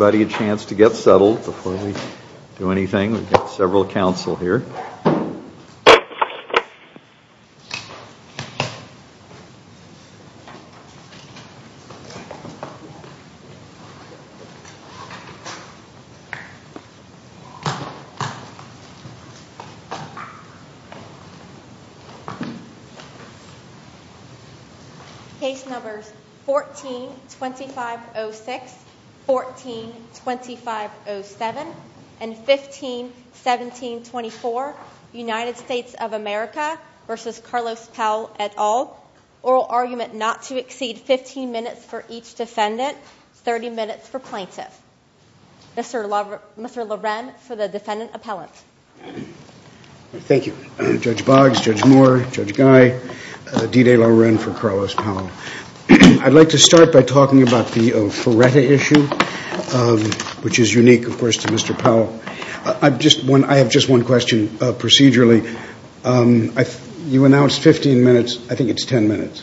Anybody have a chance to get settled before we do anything? We've got several counsel here. Case number 14-2506, 14-2507, and 15-1724. 15-1724, United States of America v. Carlos Powell et al. Oral argument not to exceed 15 minutes for each defendant, 30 minutes for plaintiff. Mr. Loren for the defendant appellate. Thank you. Judge Boggs, Judge Moore, Judge Guy, D.J. Loren for Carlos Powell. I'd like to start by talking about the Fureta issue, which is unique, of course, to Mr. Powell. I have just one question, procedurally. You announced 15 minutes, I think it's 10 minutes.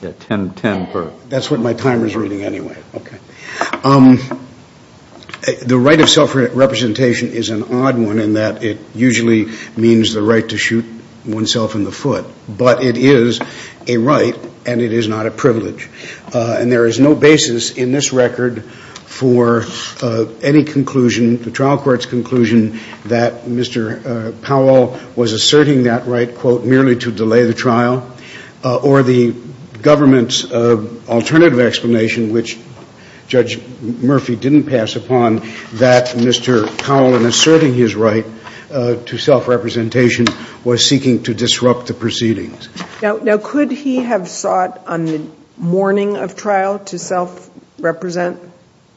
That's what my timer is reading anyway. The right of self-representation is an odd one in that it usually means the right to shoot oneself in the foot. But it is a right, and it is not a privilege. And there is no basis in this record for any conclusion, the trial court's conclusion, that Mr. Powell was asserting that right, quote, merely to delay the trial, or the government's alternative explanation, which Judge Murphy didn't pass upon, that Mr. Powell, in asserting his right to self-representation, was seeking to disrupt the proceedings. Now, could he have sought on the morning of trial to self-represent?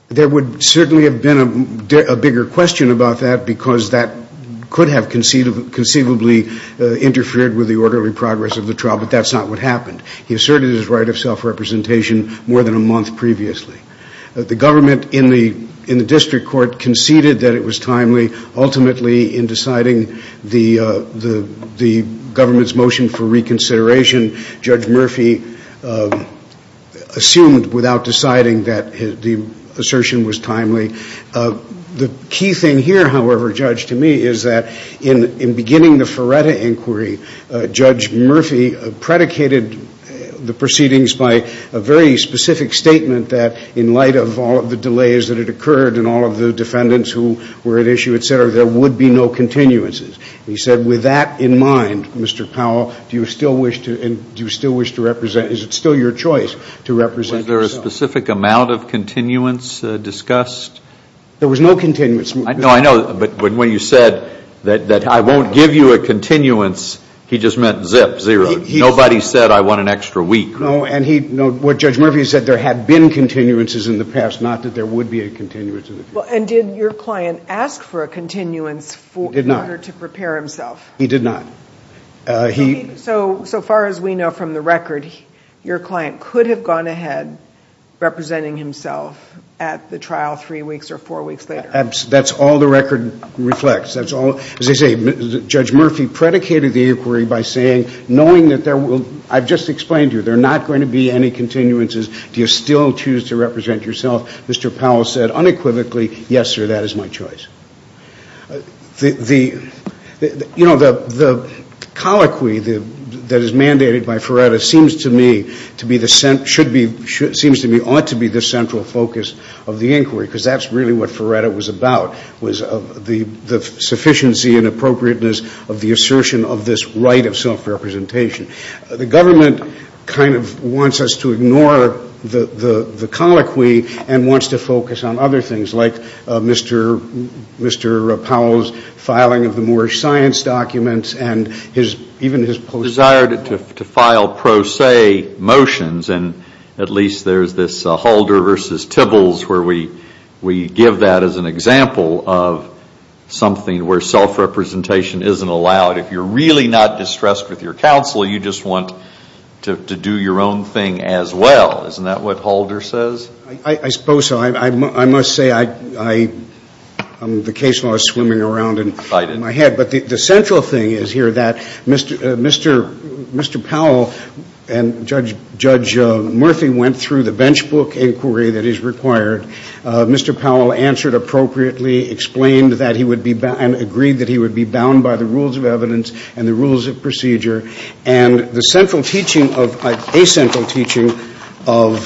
There would certainly have been a bigger question about that, because that could have conceivably interfered with the orderly progress of the trial, but that's not what happened. He asserted his right of self-representation more than a month previously. The government in the district court conceded that it was timely, and ultimately in deciding the government's motion for reconsideration, Judge Murphy assumed without deciding that the assertion was timely. The key thing here, however, Judge, to me, is that in beginning the Feretta inquiry, Judge Murphy predicated the proceedings by a very specific statement that, in light of all of the delays that had occurred and all of the defendants who were at issue, et cetera, there would be no continuances. He said with that in mind, Mr. Powell, do you still wish to represent, is it still your choice to represent yourself? Was there a specific amount of continuance discussed? There was no continuance. No, I know, but when you said that I won't give you a continuance, he just meant zip, zero. Nobody said I want an extra week. No, and what Judge Murphy said, there had been continuances in the past, not that there would be a continuance. And did your client ask for a continuance in order to prepare himself? He did not. So far as we know from the record, your client could have gone ahead representing himself at the trial three weeks or four weeks later. That's all the record reflects. As I say, Judge Murphy predicated the inquiry by saying, knowing that there will be, I just explained to you, there are not going to be any continuances. Do you still choose to represent yourself? Mr. Powell said unequivocally, yes, sir, that is my choice. You know, the colloquy that is mandated by Ferretta seems to me ought to be the central focus of the inquiry because that's really what Ferretta was about, was the sufficiency and appropriateness of the assertion of this right of self-representation. The government kind of wants us to ignore the colloquy and wants to focus on other things, like Mr. Powell's filing of the Moorish science documents and even his desire to file pro se motions, and at least there's this Holder versus Tibbles where we give that as an example of something where self-representation isn't allowed. If you're really not distressed with your counsel, you just want to do your own thing as well. Isn't that what Holder says? I suppose so. I must say I'm vocational. I was swimming around in my head. But the central thing is here that Mr. Powell and Judge Murthy went through the bench book inquiry that is required. Mr. Powell answered appropriately, explained that he would be bound, agreed that he would be bound by the rules of evidence and the rules of procedure, and the central teaching of a central teaching of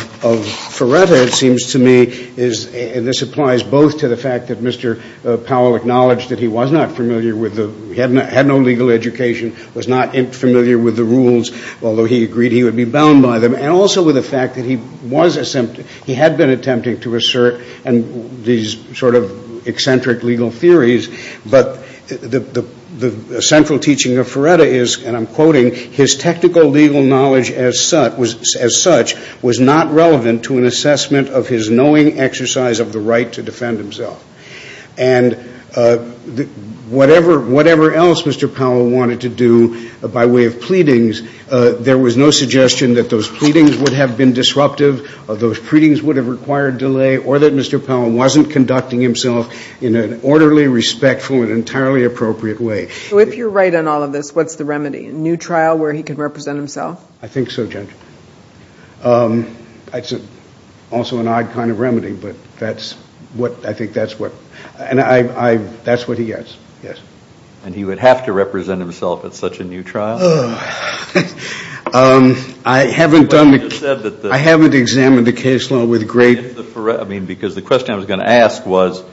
Ferretta, it seems to me, and this applies both to the fact that Mr. Powell acknowledged that he had no legal education, was not familiar with the rules, although he agreed he would be bound by them, and also the fact that he had been attempting to assert these sort of eccentric legal theories, but the central teaching of Ferretta is, and I'm quoting, his technical legal knowledge as such was not relevant to an assessment of his knowing exercise of the right to defend himself. And whatever else Mr. Powell wanted to do by way of pleadings, there was no suggestion that those pleadings would have been disruptive, those pleadings would have required delay, or that Mr. Powell wasn't conducting himself in an orderly, respectful, and entirely appropriate way. So if you're right on all of this, what's the remedy? A new trial where he can represent himself? I think so, Jennifer. That's also an odd kind of remedy, but that's what, I think that's what, and I, that's what he gets, yes. And he would have to represent himself at such a new trial? I haven't done, I haven't examined the case at all with great, I mean because the question I was going to ask was,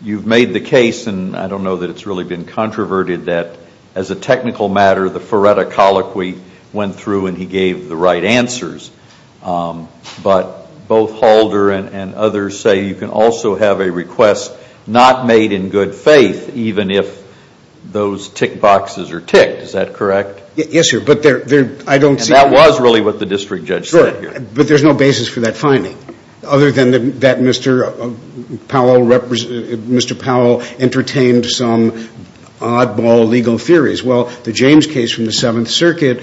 you've made the case, and I don't know that it's really been controverted, that as a technical matter the Ferretta colloquy went through and he gave the right answers, but both Halder and others say you can also have a request not made in good faith, even if those tick boxes are ticked, is that correct? Yes, sir, but there, I don't see. And that was really what the district judge said. But there's no basis for that finding, other than that Mr. Powell entertained some oddball legal theories. Well, the James case from the Seventh Circuit,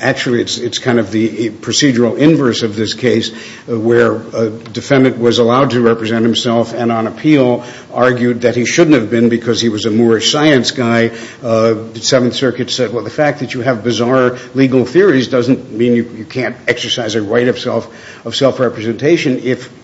actually it's kind of the procedural inverse of this case, where a defendant was allowed to represent himself and on appeal, argued that he shouldn't have been because he was a more science guy. The Seventh Circuit said, well, the fact that you have bizarre legal theories doesn't mean you can't exercise a right of self-representation. If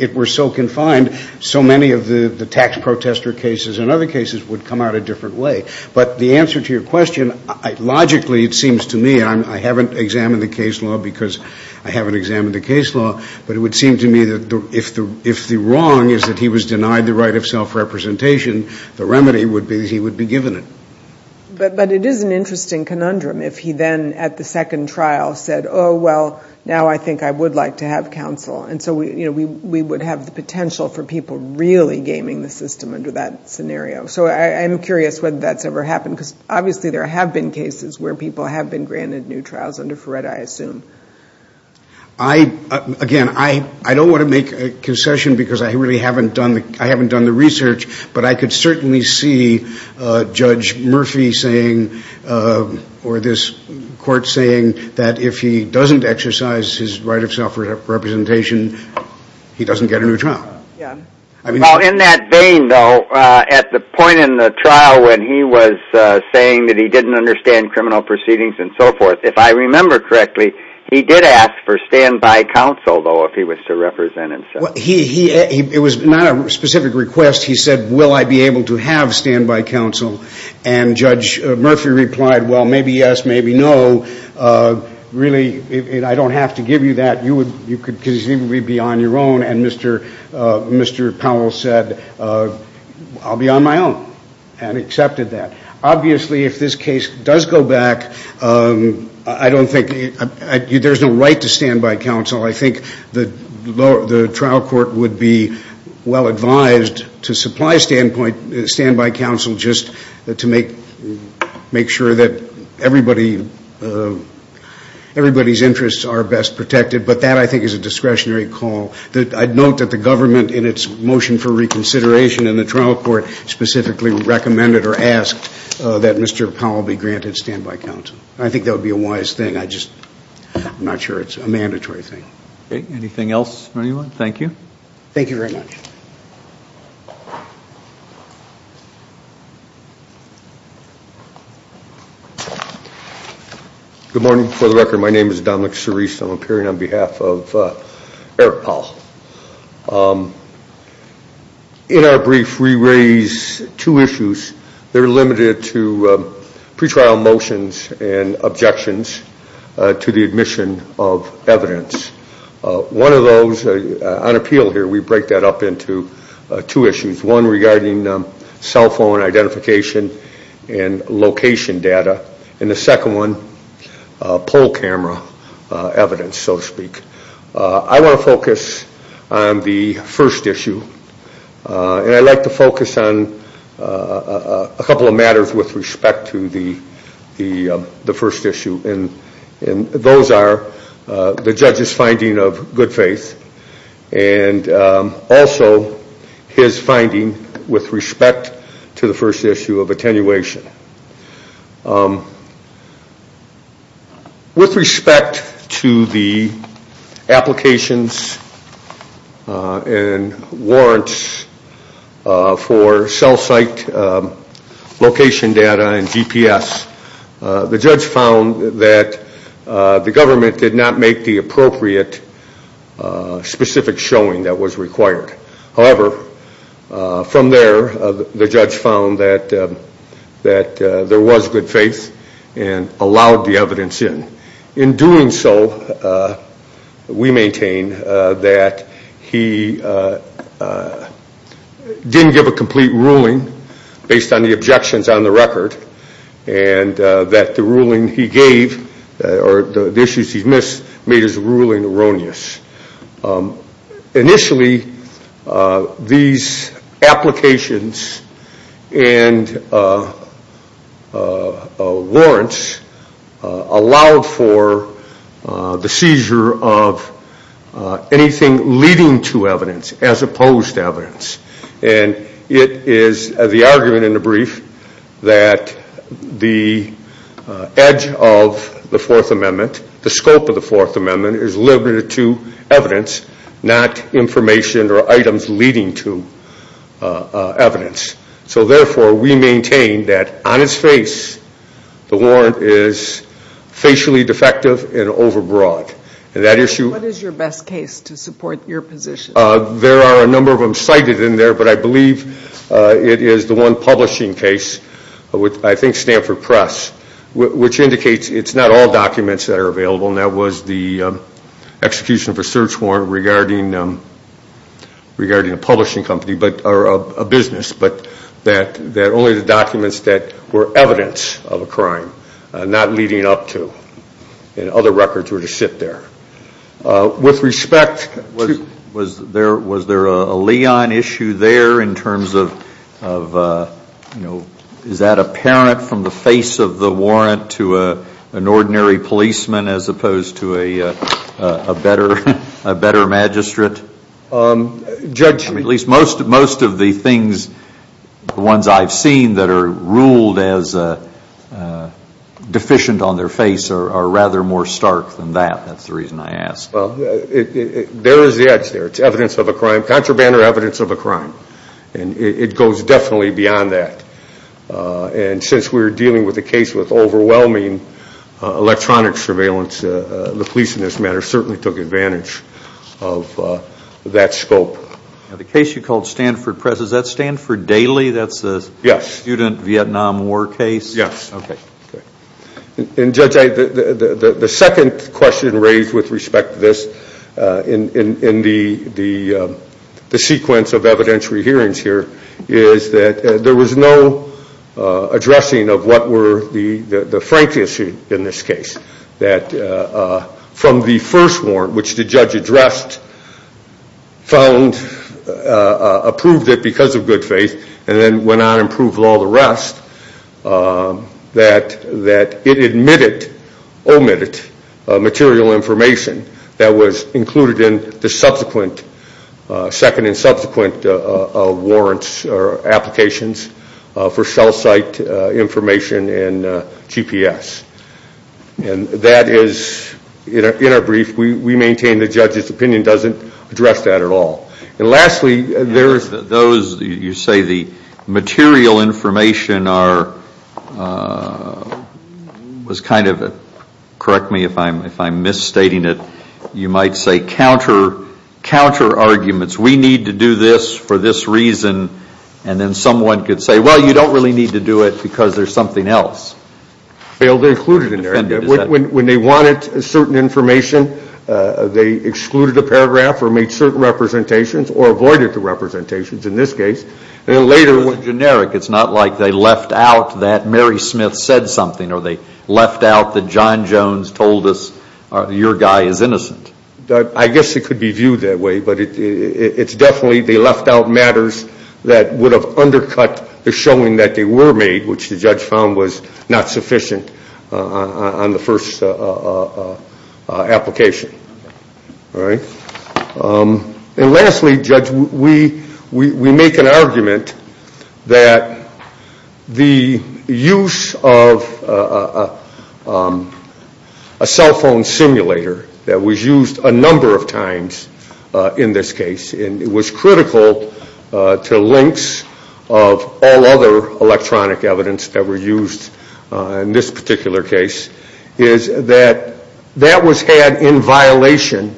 it were so confined, so many of the tax protester cases and other cases would come out a different way. But the answer to your question, logically it seems to me, I haven't examined the case law because I haven't examined the case law, but it would seem to me that if the wrong is that he was denied the right of self-representation, the remedy would be that he would be given it. But it is an interesting conundrum if he then at the second trial said, oh, well, now I think I would like to have counsel. And so we would have the potential for people really gaming the system under that scenario. So I'm curious whether that's ever happened, because obviously there have been cases where people have been granted new trials under FRED, I assume. Again, I don't want to make a concession because I haven't done the research, but I could certainly see Judge Murphy saying or this court saying that if he doesn't exercise his right of self-representation, he doesn't get a new trial. In that vein, though, at the point in the trial when he was saying that he didn't understand criminal proceedings and so forth, if I remember correctly, he did ask for standby counsel, though, if he was to represent himself. It was not a specific request. He said, will I be able to have standby counsel? And Judge Murphy replied, well, maybe yes, maybe no. Really, I don't have to give you that because you would be on your own. And Mr. Powell said, I'll be on my own and accepted that. Obviously, if this case does go back, I don't think there's a right to standby counsel. I think the trial court would be well advised to supply standby counsel just to make sure that everybody's interests are best protected. But that, I think, is a discretionary call. I'd note that the government, in its motion for reconsideration in the trial court, specifically recommended or asked that Mr. Powell be granted standby counsel. I think that would be a wise thing. I'm not sure it's a mandatory thing. Anything else, anyone? Thank you. Thank you very much. Good morning. For the record, my name is Dominic Cerise. I'm appearing on behalf of Eric Powell. In our brief, we raise two issues. They're limited to pretrial motions and objections to the admission of evidence. One of those, on appeal here, we break that up into two issues. One regarding cell phone identification and location data. And the second one, poll camera evidence, so to speak. I want to focus on the first issue. And I'd like to focus on a couple of matters with respect to the first issue. And those are the judge's finding of good faith and also his finding with respect to the first issue of attenuation. With respect to the applications and warrants for cell site location data and GPS, the judge found that the government did not make the appropriate specific showing that was required. However, from there, the judge found that there was good faith and allowed the evidence in. In doing so, we maintain that he didn't give a complete ruling based on the objections on the record and that the ruling he gave or the issues he missed made his ruling erroneous. Initially, these applications and warrants allowed for the seizure of anything leading to evidence as opposed to evidence. And it is the argument in the brief that the edge of the Fourth Amendment, the scope of the Fourth Amendment, is limited to evidence, not information or items leading to evidence. So therefore, we maintain that on its face, the warrant is facially defective and overbroad. And that issue- What is your best case to support your position? There are a number of them cited in there, but I believe it is the one publishing case, I think Stanford Press, which indicates it is not all documents that are available and that was the execution of a search warrant regarding a publishing company or a business, but that only the documents that were evidence of a crime, not leading up to other records were to sit there. With respect, was there a Leon issue there in terms of, is that apparent from the face of the warrant to an ordinary policeman as opposed to a better magistrate? Judge- At least most of the things, the ones I've seen that are ruled as deficient on their face are rather more stark than that. That's the reason I asked. There is the edge there. It's evidence of a crime, contraband or evidence of a crime. And it goes definitely beyond that. And since we're dealing with a case with overwhelming electronic surveillance, the police in this matter certainly took advantage of that scope. The case you called Stanford Press, is that Stanford Daily? Yes. That's the student Vietnam War case? Yes. And Judge, the second question raised with respect to this in the sequence of evidentiary hearings here is that there was no addressing of what were the frank issues in this case. That from the first warrant, which the judge addressed, found, approved it because of good faith and then went on and approved all the rest, that it omitted material information that was included in the second and subsequent warrants or applications for cell site information and GPS. And that is, in a brief, we maintain the judge's opinion doesn't address that at all. And lastly, you say the material information was kind of, correct me if I'm misstating it, you might say counter arguments. We need to do this for this reason. And then someone could say, well, you don't really need to do it because there's something else. Well, they included it in there. When they wanted certain information, they excluded a paragraph or made certain representations or avoided the representations in this case. And then later it was generic. It's not like they left out that Mary Smith said something or they left out that John Jones told us your guy is innocent. I guess it could be viewed that way, but it's definitely they left out matters that would have undercut the showing that they were made, which the judge found was not sufficient on the first application. All right? And lastly, Judge, we make an argument that the use of a cell phone simulator that was used a number of times in this case, and it was critical to links of all other electronic evidence that were used in this particular case, is that that was had in violation,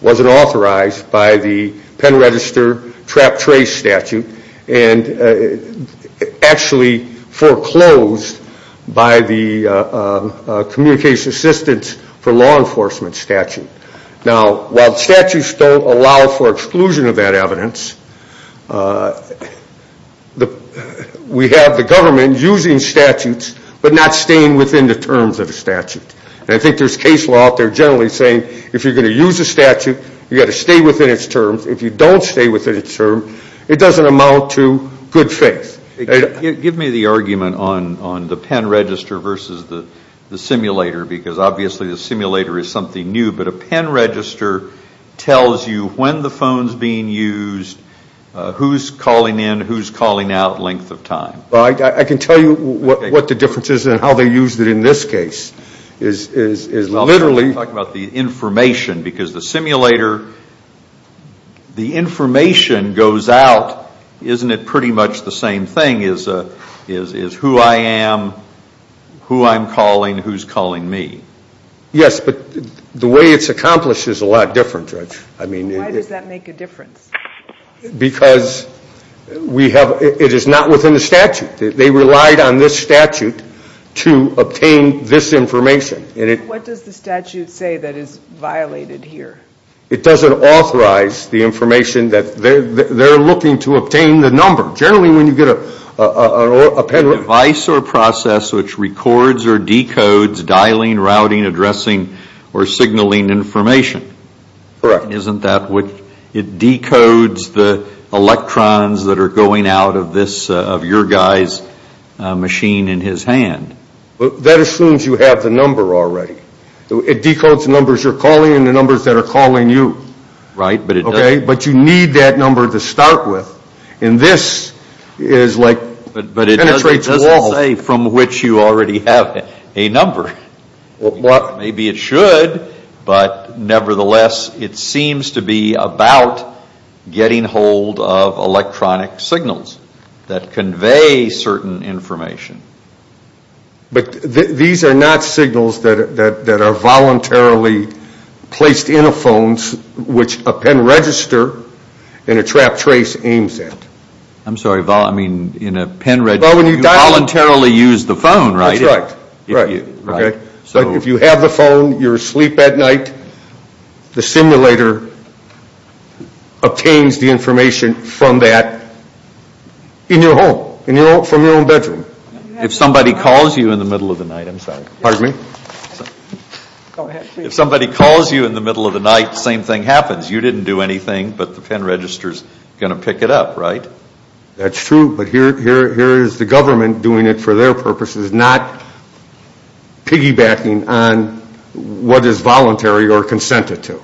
wasn't authorized by the Penn Register Trap Trace Statute, and actually foreclosed by the Communication Assistance for Law Enforcement Statute. Now, while statutes don't allow for exclusion of that evidence, we have the government using statutes but not staying within the terms of a statute. And I think there's case law out there generally saying if you're going to use a statute, you've got to stay within its terms. If you don't stay within its terms, it doesn't amount to good faith. Give me the argument on the Penn Register versus the simulator, because obviously the simulator is something new, but a Penn Register tells you when the phone's being used, who's calling in, who's calling out, length of time. Well, I can tell you what the difference is in how they used it in this case. I'm talking about the information, because the simulator, the information goes out, isn't it pretty much the same thing, is who I am, who I'm calling, who's calling me. Yes, but the way it's accomplished is a lot different, Judge. Why does that make a difference? Because it is not within the statute. They relied on this statute to obtain this information. What does the statute say that is violated here? It doesn't authorize the information that they're looking to obtain the number. Generally, when you get a penalty... A device or process which records or decodes dialing, routing, addressing, or signaling information. Correct. Isn't that what it decodes, the electrons that are going out of your guy's machine in his hand? That assumes you have the number already. It decodes the numbers you're calling and the numbers that are calling you. Right, but it doesn't... Okay, but you need that number to start with. And this is like... But it doesn't say from which you already have a number. Maybe it should, but nevertheless, it seems to be about getting hold of electronic signals that convey certain information. But these are not signals that are voluntarily placed in a phone, which a pen register and a trap trace aims at. I'm sorry, I mean, in a pen register, you voluntarily use the phone, right? That's right. So if you have the phone, you're asleep at night, the simulator obtains the information from that in your home, from your own bedroom. If somebody calls you in the middle of the night, I'm sorry. Pardon me? If somebody calls you in the middle of the night, the same thing happens. You didn't do anything, but the pen register is going to pick it up, right? That's true, but here is the government doing it for their purposes, which is not piggybacking on what is voluntary or consented to.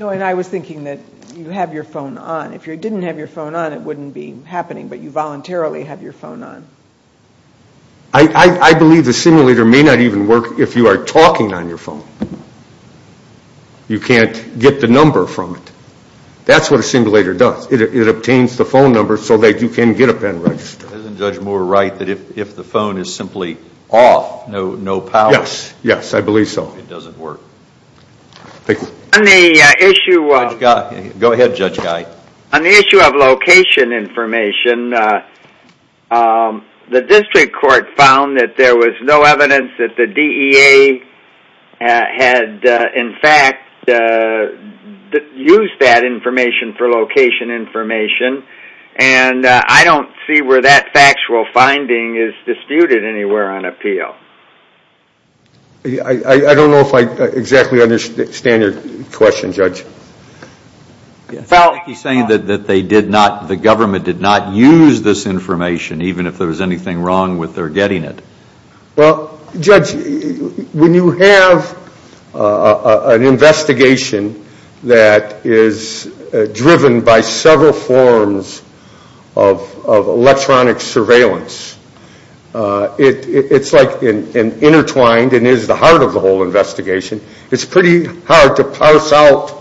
No, and I was thinking that you have your phone on. If you didn't have your phone on, it wouldn't be happening, but you voluntarily have your phone on. I believe the simulator may not even work if you are talking on your phone. You can't get the number from it. That's what a simulator does. It obtains the phone number so that you can get a pen register. Isn't Judge Moore right that if the phone is simply off, no power? Yes, I believe so. It doesn't work. Thank you. Go ahead, Judge Guy. On the issue of location information, the district court found that there was no evidence that the DEA had, in fact, used that information for location information, and I don't see where that factual finding is disputed anywhere on appeal. I don't know if I exactly understand your question, Judge. He's saying that the government did not use this information, even if there was anything wrong with their getting it. Well, Judge, when you have an investigation that is driven by several forms of electronic surveillance, it's like an intertwined and is the heart of the whole investigation. It's pretty hard to parse out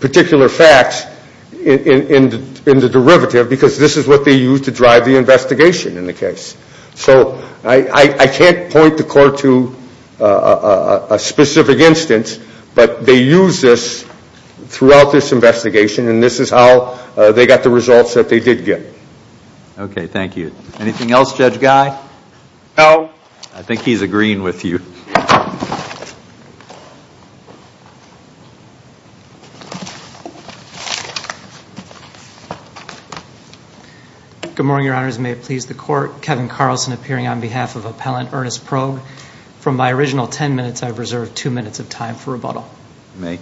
particular facts in the derivative because this is what they used to drive the investigation in the case. So I can't point the court to a specific instance, but they used this throughout this investigation, and this is how they got the results that they did get. Okay, thank you. Anything else, Judge Guy? No. I think he's agreeing with you. Good morning, Your Honors, and may it please the court. Kevin Carlson appearing on behalf of Appellant Ernest Probe. From my original ten minutes, I've reserved two minutes of time for rebuttal. You may.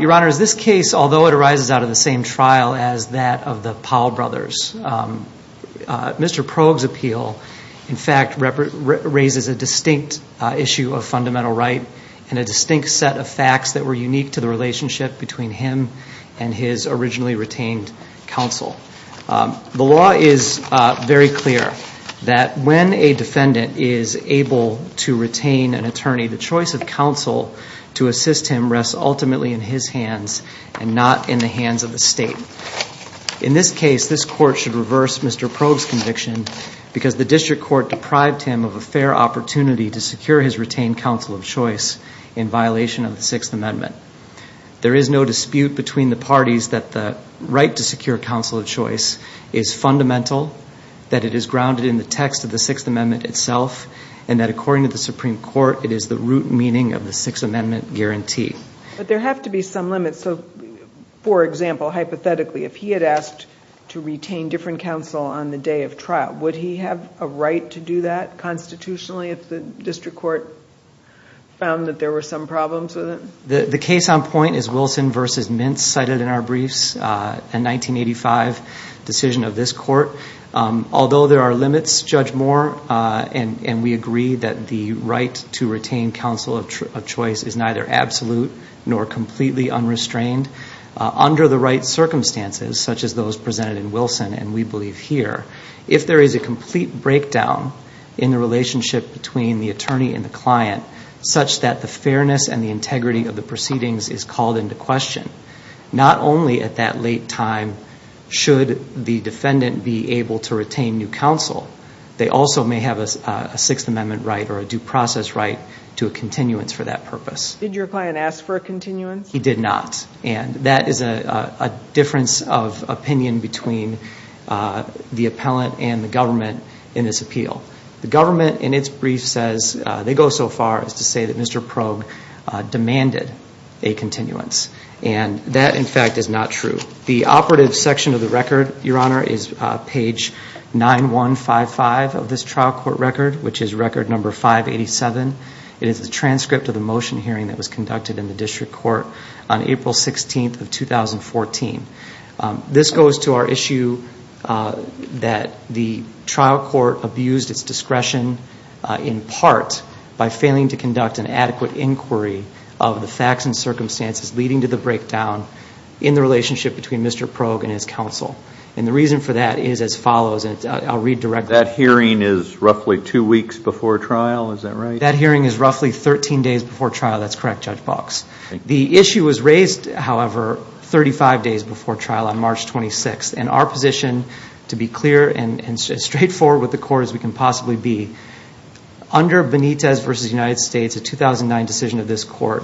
Your Honor, this case, although it arises out of the same trial as that of the Powell brothers, Mr. Probe's appeal, in fact, raises a distinct issue of fundamental right and a distinct set of facts that were unique to the relationship between him and his originally retained counsel. The law is very clear that when a defendant is able to retain an attorney, the choice of counsel to assist him rests ultimately in his hands and not in the hands of the state. In this case, this court should reverse Mr. Probe's conviction because the district court deprived him of a fair opportunity to secure his retained counsel of choice in violation of the Sixth Amendment. There is no dispute between the parties that the right to secure counsel of choice is fundamental, that it is grounded in the text of the Sixth Amendment itself, and that according to the Supreme Court, it is the root meaning of the Sixth Amendment guarantee. But there have to be some limits. For example, hypothetically, if he had asked to retain different counsel on the day of trial, would he have a right to do that constitutionally if the district court found that there were some problems with it? The case on point is Wilson v. Mintz cited in our briefs, a 1985 decision of this court. Although there are limits, Judge Moore and we agree that the right to retain counsel of choice is neither absolute nor completely unrestrained under the right circumstances such as those presented in Wilson and we believe here. If there is a complete breakdown in the relationship between the attorney and the client such that the fairness and the integrity of the proceedings is called into question, not only at that late time should the defendant be able to retain new counsel, they also may have a Sixth Amendment right or a due process right to a continuance for that purpose. Did your client ask for a continuance? He did not. And that is a difference of opinion between the appellant and the government in this appeal. The government in its brief says, they go so far as to say that Mr. Probe demanded a continuance. And that in fact is not true. The operative section of the record, Your Honor, is page 9155 of this trial court record, which is record number 587. It is the transcript of the motion hearing that was conducted in the district court on April 16th of 2014. This goes to our issue that the trial court abused its discretion in part by failing to conduct an adequate inquiry of the facts and circumstances leading to the breakdown in the relationship between Mr. Probe and his counsel. And the reason for that is as follows, and I'll read directly. That hearing is roughly two weeks before trial, is that right? That hearing is roughly 13 days before trial, that's correct, Judge Box. The issue was raised, however, 35 days before trial on March 26th. And our position, to be clear and straightforward with the court as we can possibly be, under Benitez v. United States, a 2009 decision of this court,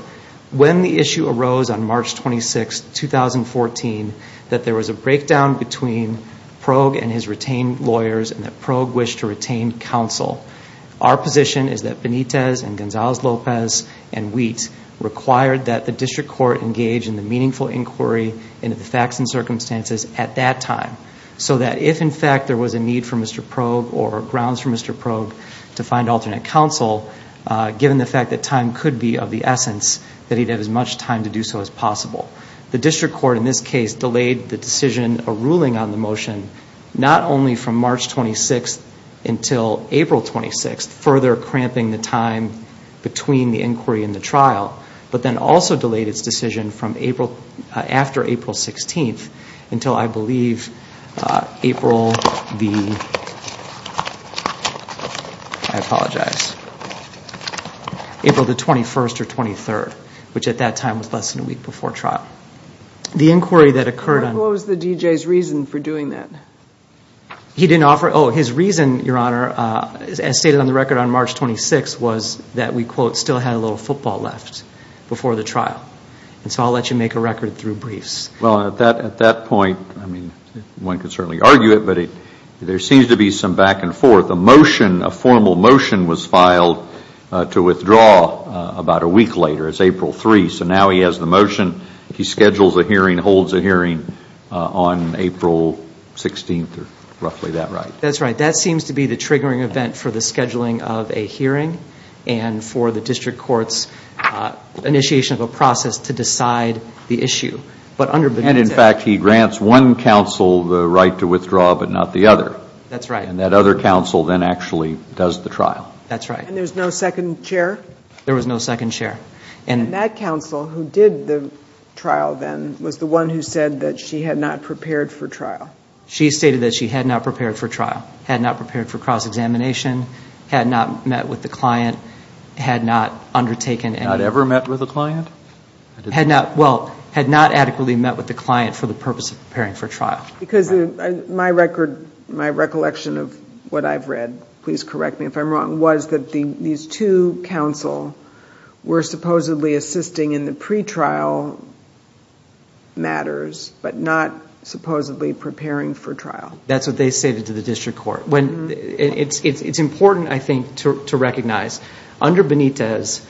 when the issue arose on March 26th, 2014, that there was a breakdown between Probe and his retained lawyers and that Probe wished to retain counsel. Our position is that Benitez and Gonzalez-Lopez and Wheat required that the district court engage in the meaningful inquiry into the facts and circumstances at that time. So that if, in fact, there was a need for Mr. Probe or grounds for Mr. Probe to find alternate counsel, given the fact that time could be of the essence, that he'd have as much time to do so as possible. The district court, in this case, delayed the decision or ruling on the motion not only from March 26th until April 26th, further cramping the time between the inquiry and the trial, but then also delayed its decision after April 16th until, I believe, April the 21st or 23rd, which at that time was less than a week before trial. What was the DJ's reason for doing that? Oh, his reason, Your Honor, as stated on the record on March 26th, was that we, quote, still had a little football left before the trial. And so I'll let you make a record through briefs. Well, at that point, I mean, one could certainly argue it, but there seems to be some back and forth. A motion, a formal motion, was filed to withdraw about a week later. It's April 3, so now he has the motion. He schedules a hearing, holds a hearing on April 16th, roughly that right. That's right. That seems to be the triggering event for the scheduling of a hearing and for the district court's initiation of a process to decide the issue. And, in fact, he grants one counsel the right to withdraw but not the other. That's right. And that other counsel then actually does the trial. That's right. And there's no second chair? There was no second chair. And that counsel who did the trial then was the one who said that she had not prepared for trial. She stated that she had not prepared for trial, had not prepared for cross-examination, had not met with the client, had not undertaken anything. Not ever met with the client? Well, had not adequately met with the client for the purpose of preparing for trial. Because my record, my recollection of what I've read, please correct me if I'm wrong, was that these two counsel were supposedly assisting in the pretrial matters but not supposedly preparing for trial. That's what they stated to the district court. It's important, I think, to recognize under Benitez,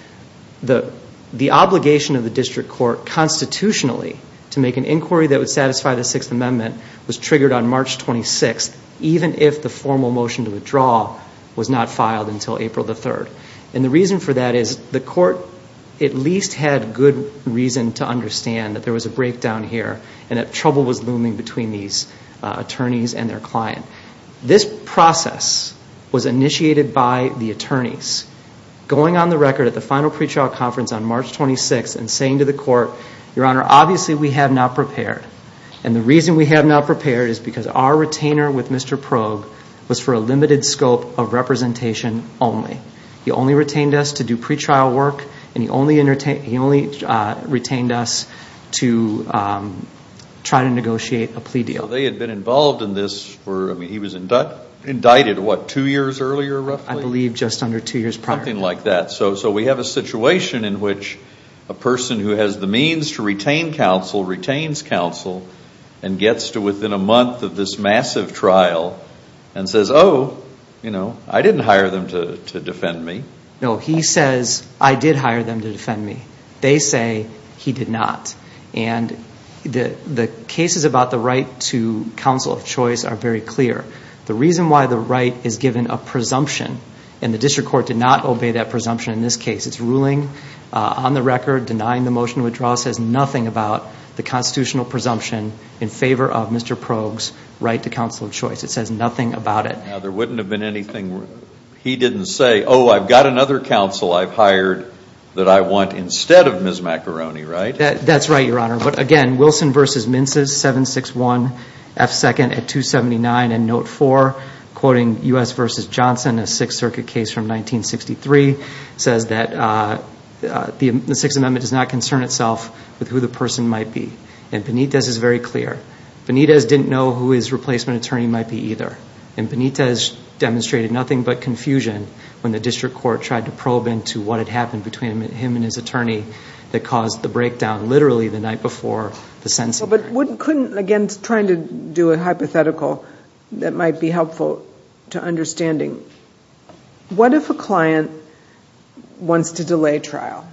the obligation of the district court constitutionally to make an inquiry that would satisfy the Sixth Amendment was triggered on March 26th, even if the formal motion to withdraw was not filed until April 3rd. And the reason for that is the court at least had good reason to understand that there was a breakdown here and that trouble was looming between these attorneys and their client. This process was initiated by the attorneys going on the record at the final pretrial conference on March 26th and saying to the court, Your Honor, obviously we have not prepared. And the reason we have not prepared is because our retainer with Mr. Probe was for a limited scope of representation only. He only retained us to do pretrial work and he only retained us to try to negotiate a plea deal. They had been involved in this for, I mean, he was indicted what, two years earlier roughly? I believe just under two years prior. Something like that. So we have a situation in which a person who has the means to retain counsel retains counsel and gets to within a month of this massive trial and says, Oh, you know, I didn't hire them to defend me. No, he says, I did hire them to defend me. They say he did not. And the cases about the right to counsel of choice are very clear. The reason why the right is given a presumption, and the district court did not obey that presumption in this case, it's ruling on the record denying the motion to withdraw says nothing about the constitutional presumption in favor of Mr. Probe's right to counsel of choice. It says nothing about it. Now, there wouldn't have been anything, he didn't say, Oh, I've got another counsel I've hired that I want instead of Ms. Macaroni, right? That's right, Your Honor. But, again, Wilson v. Mince's 761F2 at 279 in Note 4, quoting U.S. v. Johnson, a Sixth Circuit case from 1963, says that the Sixth Amendment does not concern itself with who the person might be. And Benitez is very clear. Benitez didn't know who his replacement attorney might be either. And Benitez demonstrated nothing but confusion when the district court tried to probe into what had happened between him and his attorney that caused the breakdown, literally the night before the sentencing. But, again, trying to do a hypothetical that might be helpful to understanding, what if a client wants to delay trial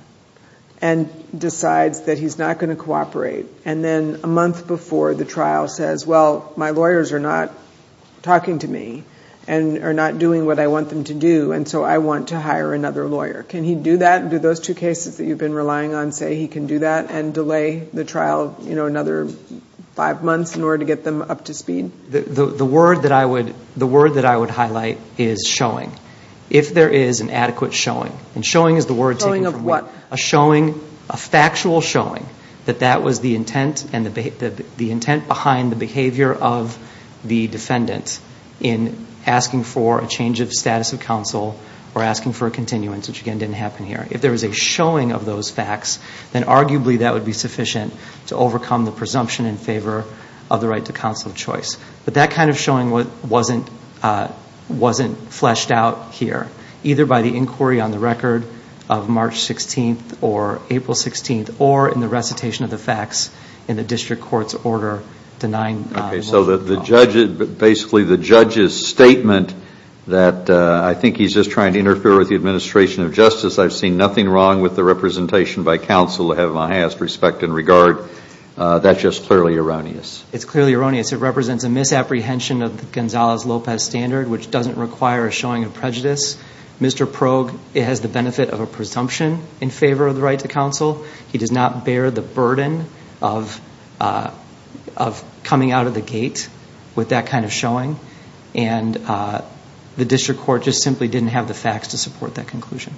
and decides that he's not going to cooperate and then a month before the trial says, Well, my lawyers are not talking to me and are not doing what I want them to do, and so I want to hire another lawyer. Can he do that? Do those two cases that you've been relying on say he can do that and delay the trial, you know, another five months in order to get them up to speed? The word that I would highlight is showing. If there is an adequate showing, and showing is the word taken from me. Showing of what? A showing, a factual showing that that was the intent behind the behavior of the defendant in asking for a change of status of counsel or asking for a continuance, which, again, didn't happen here. If there is a showing of those facts, then arguably that would be sufficient to overcome the presumption in favor of the right to counsel choice. But that kind of showing wasn't fleshed out here, either by the inquiry on the record of March 16th or April 16th, or in the recitation of the facts in the district court's order denying Okay, so basically the judge's statement that I think he's just trying to interfere with the administration of justice, I've seen nothing wrong with the representation by counsel to have my highest respect and regard. That's just clearly erroneous. It's clearly erroneous. It represents a misapprehension of the Gonzales-Lopez standard, which doesn't require a showing of prejudice. Mr. Progue has the benefit of a presumption in favor of the right to counsel. He does not bear the burden of coming out of the gate with that kind of showing. The district court just simply didn't have the facts to support that conclusion.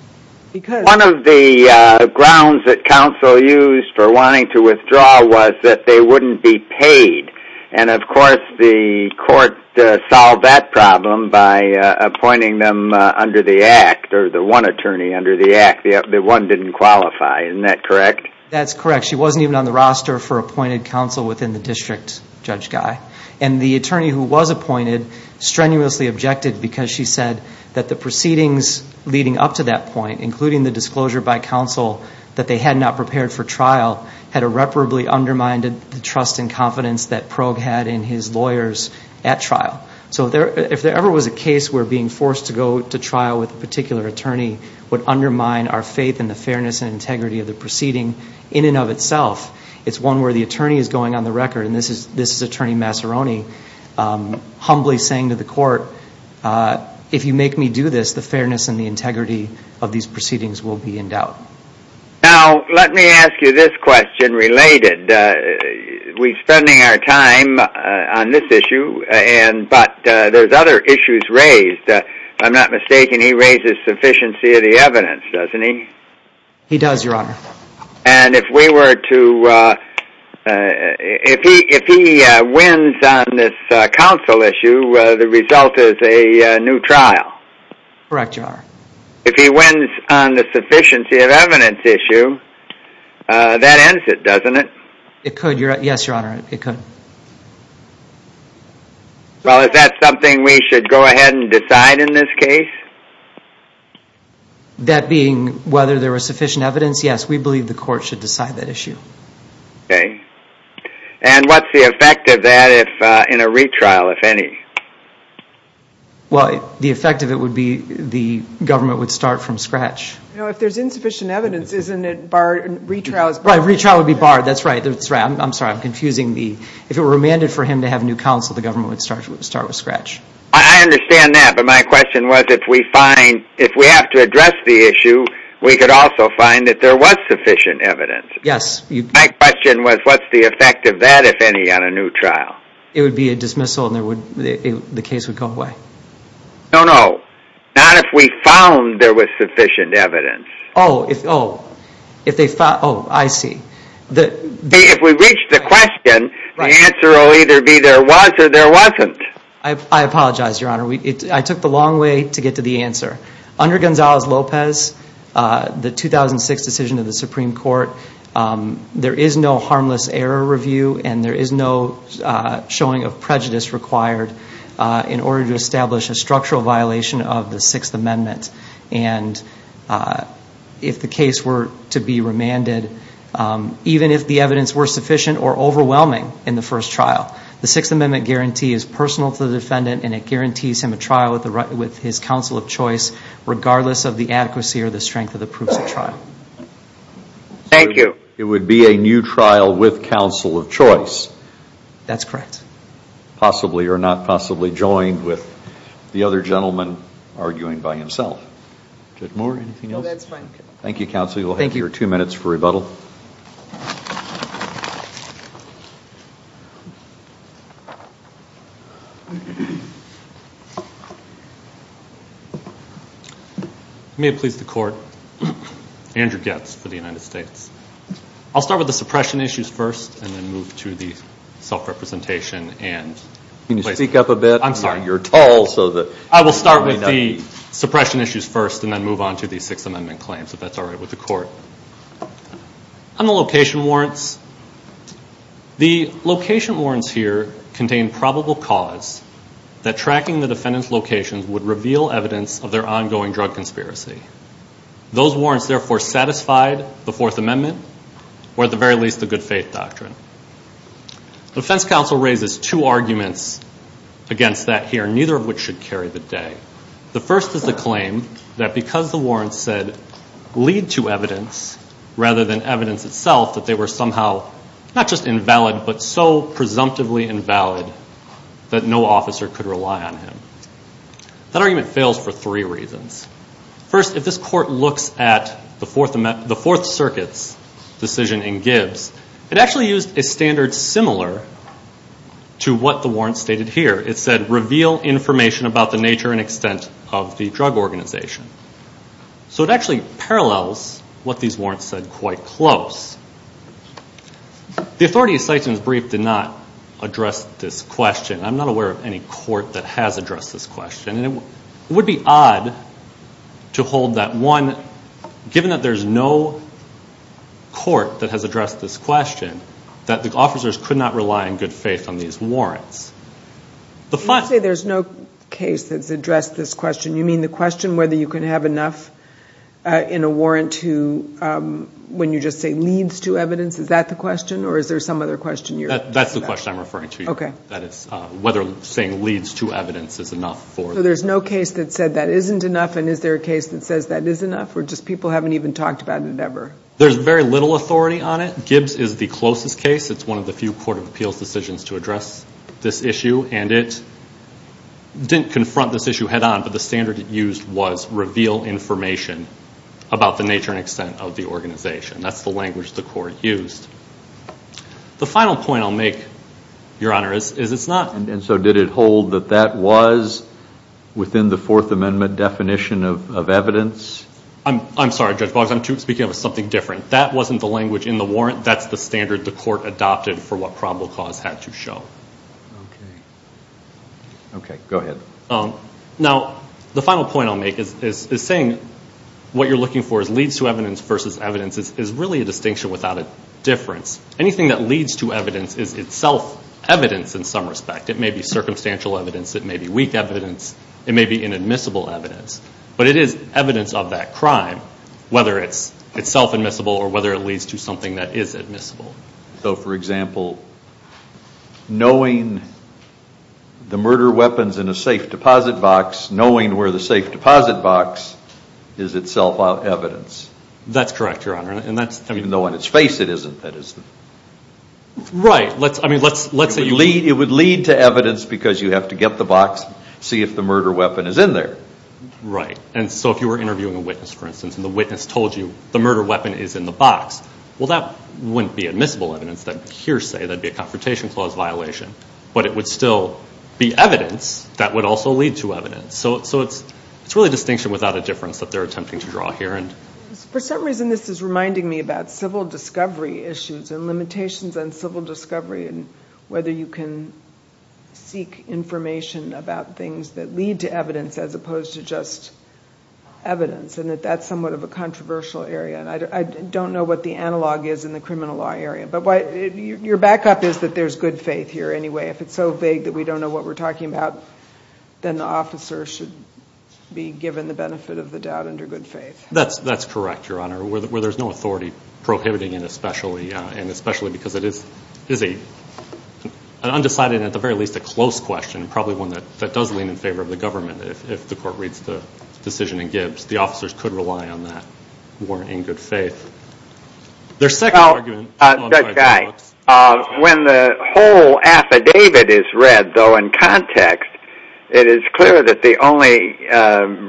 One of the grounds that counsel used for wanting to withdraw was that they wouldn't be paid. Of course, the court solved that problem by appointing them under the Act, or the one attorney under the Act. The one didn't qualify. Isn't that correct? That's correct. She wasn't even on the roster for appointed counsel within the district, Judge Guy. The attorney who was appointed strenuously objected because she said that the proceedings leading up to that point, including the disclosure by counsel that they had not prepared for trial, had irreparably undermined the trust and confidence that Progue had in his lawyers at trial. If there ever was a case where being forced to go to trial with a particular attorney would undermine our faith in the fairness and integrity of the proceeding in and of itself, it's one where the attorney is going on the record, and this is Attorney Masseroni, humbly saying to the court, if you make me do this, the fairness and the integrity of these proceedings will be in doubt. Now, let me ask you this question related. We're spending our time on this issue, but there's other issues raised. If I'm not mistaken, he raises sufficiency of the evidence, doesn't he? He does, Your Honor. And if we were to, if he wins on this counsel issue, the result is a new trial? Correct, Your Honor. If he wins on the sufficiency of evidence issue, that ends it, doesn't it? It could, yes, Your Honor, it could. Well, is that something we should go ahead and decide in this case? That being whether there was sufficient evidence, yes, we believe the court should decide that issue. Okay. And what's the effect of that in a retrial, if any? Well, the effect of it would be the government would start from scratch. Now, if there's insufficient evidence, isn't it barred in retrials? Well, a retrial would be barred. That's right, that's right. I'm sorry, I'm confusing the, if it were remanded for him to have new counsel, the government would start from scratch. I understand that, but my question was if we find, if we have to address the issue, we could also find that there was sufficient evidence. Yes. My question was what's the effect of that, if any, on a new trial? It would be a dismissal and the case would go away. No, no, not if we found there was sufficient evidence. Oh, oh, if they found, oh, I see. If we reach the question, the answer will either be there was or there wasn't. I apologize, Your Honor. I took the long way to get to the answer. Under Gonzales-Lopez, the 2006 decision of the Supreme Court, there is no harmless error review and there is no showing of prejudice required in order to establish a structural violation of the Sixth Amendment. And if the case were to be remanded, even if the evidence were sufficient or overwhelming in the first trial, the Sixth Amendment guarantee is personal to the defendant and it guarantees him a trial with his counsel of choice regardless of the adequacy or the strength of the proofs of trial. Thank you. It would be a new trial with counsel of choice. That's correct. Possibly or not possibly joined with the other gentleman arguing by himself. Is there more? No, that's fine. Thank you, Counsel. Thank you. You have three minutes or two minutes for rebuttal. May it please the Court. Andrew Getz for the United States. I'll start with the suppression issues first and then move to the self-representation. Can you speak up a bit? I'm sorry. You're tall. I will start with the suppression issues first and then move on to the Sixth Amendment claims, if that's all right with the Court. On the location warrants, the location warrants here contain probable cause that tracking the defendant's location would reveal evidence of their ongoing drug conspiracy. Those warrants, therefore, satisfied the Fourth Amendment or at the very least the good faith doctrine. The defense counsel raises two arguments against that here, neither of which should carry the day. The first is the claim that because the warrants said lead to evidence rather than evidence itself that they were somehow not just invalid but so presumptively invalid that no officer could rely on him. That argument fails for three reasons. First, if this Court looks at the Fourth Circuit's decision in Gibbs, it actually used a standard similar to what the warrants stated here. It said, reveal information about the nature and extent of the drug organization. So it actually parallels what these warrants said quite close. The authority's second brief did not address this question. I'm not aware of any court that has addressed this question. It would be odd to hold that one, given that there's no court that has addressed this question, that the officers could not rely in good faith on these warrants. You say there's no case that's addressed this question. You mean the question whether you can have enough in a warrant when you just say leads to evidence? Is that the question or is there some other question? That's the question I'm referring to. Whether saying leads to evidence is enough. So there's no case that said that isn't enough and is there a case that says that is enough or just people haven't even talked about it ever? There's very little authority on it. I think Gibbs is the closest case. It's one of the few court of appeals decisions to address this issue, and it didn't confront this issue head-on, but the standard it used was reveal information about the nature and extent of the organization. That's the language the court used. The final point I'll make, Your Honor, is it's not. And so did it hold that that was within the Fourth Amendment definition of evidence? I'm sorry, Judge Boggs, I'm speaking of something different. That wasn't the language in the warrant. That's the standard the court adopted for what probable cause had to show. Okay, go ahead. Now the final point I'll make is saying what you're looking for is leads to evidence versus evidence is really a distinction without a difference. Anything that leads to evidence is itself evidence in some respect. It may be circumstantial evidence. It may be weak evidence. It may be inadmissible evidence. But it is evidence of that crime, whether it's itself admissible or whether it leads to something that is admissible. So, for example, knowing the murder weapons in a safe deposit box, knowing where the safe deposit box is itself evidence. That's correct, Your Honor. Even though in its face it isn't, that isn't. Right. I mean, let's say... It would lead to evidence because you have to get the box, see if the murder weapon is in there. Right. And so if you were interviewing a witness, for instance, and the witness told you the murder weapon is in the box, well, that wouldn't be admissible evidence, that hearsay. That would be a Confrontation Clause violation. But it would still be evidence that would also lead to evidence. So it's really a distinction without a difference that they're attempting to draw here. For some reason this is reminding me about civil discovery issues and limitations on civil discovery and whether you can seek information about things that lead to evidence as opposed to just evidence. And that's somewhat of a controversial area. I don't know what the analog is in the criminal law area. But your backup is that there's good faith here anyway. If it's so vague that we don't know what we're talking about, then the officer should be given the benefit of the doubt under good faith. That's correct, Your Honor. Where there's no authority prohibiting it especially, because it is an undecided and at the very least a close question, probably one that does lean in favor of the government, if the court reads the decision in Gibbs, the officers could rely on that warrant in good faith. Their second argument. Judge Guy, when the whole affidavit is read though in context, it is clear that the only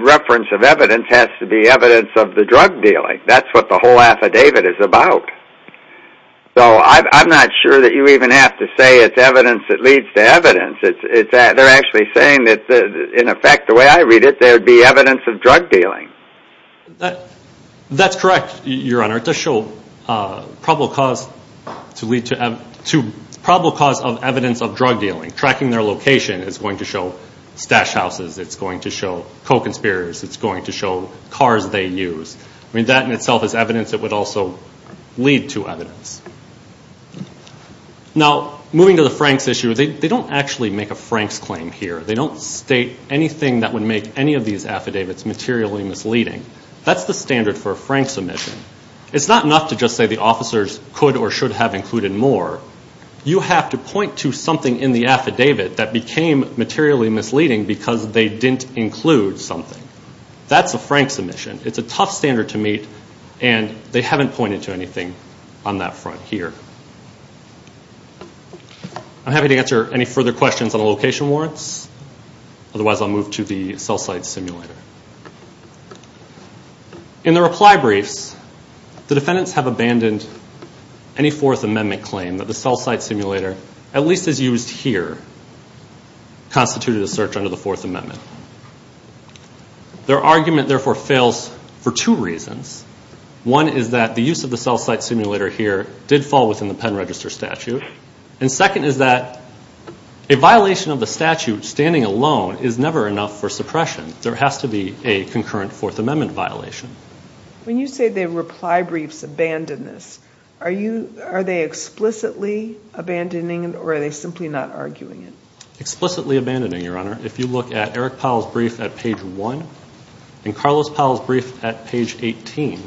reference of evidence has to be evidence of the drug dealing. That's what the whole affidavit is about. So I'm not sure that you even have to say it's evidence that leads to evidence. They're actually saying that in effect the way I read it, there would be evidence of drug dealing. That's correct, Your Honor. It does show probable cause of evidence of drug dealing. Tracking their location is going to show stash houses. It's going to show co-conspirators. It's going to show cars they use. That in itself is evidence that would also lead to evidence. Now moving to the Franks issue, they don't actually make a Franks claim here. They don't state anything that would make any of these affidavits materially misleading. That's the standard for a Franks submission. It's not enough to just say the officers could or should have included more. You have to point to something in the affidavit that became materially misleading because they didn't include something. That's a Franks submission. It's a tough standard to meet, and they haven't pointed to anything on that front here. I'm happy to answer any further questions on the location warrants. Otherwise, I'll move to the cell site simulator. In the reply brief, the defendants have abandoned any Fourth Amendment claim that the cell site simulator, at least as used here, constituted a search under the Fourth Amendment. Their argument, therefore, fails for two reasons. One is that the use of the cell site simulator here did fall within the pen register statute, and second is that a violation of the statute standing alone is never enough for suppression. There has to be a concurrent Fourth Amendment violation. When you say the reply briefs abandon this, are they explicitly abandoning, or are they simply not arguing it? Explicitly abandoning, Your Honor. If you look at Eric Powell's brief at page 1 and Carlos Powell's brief at page 18,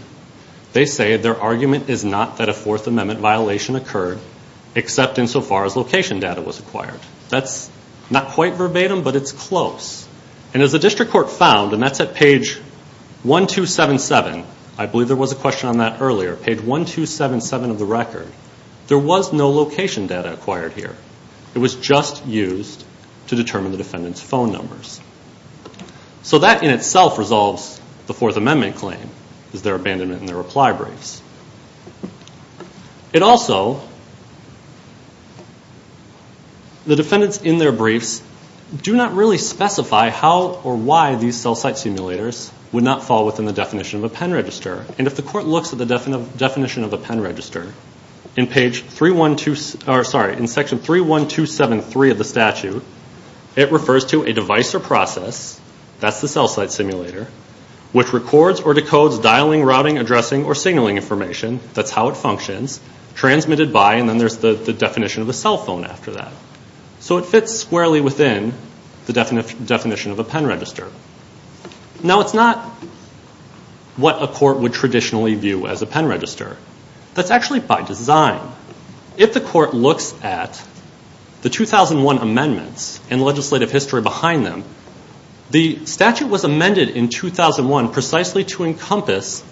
they say their argument is not that a Fourth Amendment violation occurred, except insofar as location data was acquired. That's not quite verbatim, but it's close. And as the district court found, and that's at page 1277, I believe there was a question on that earlier, page 1277 of the record, there was no location data acquired here. It was just used to determine the defendant's phone numbers. So that in itself resolves the Fourth Amendment claim, is their abandonment in the reply briefs. It also, the defendants in their briefs do not really specify how or why these cell site simulators would not fall within the definition of a pen register. And if the court looks at the definition of a pen register in section 31273 of the statute, it refers to a device or process, that's the cell site simulator, which records or decodes dialing, routing, addressing, or signaling information, that's how it functions, transmitted by, and then there's the definition of a cell phone after that. So it fits squarely within the definition of a pen register. Now it's not what a court would traditionally view as a pen register. That's actually by design. If the court looks at the 2001 amendments and legislative history behind them, the statute was amended in 2001 precisely to encompass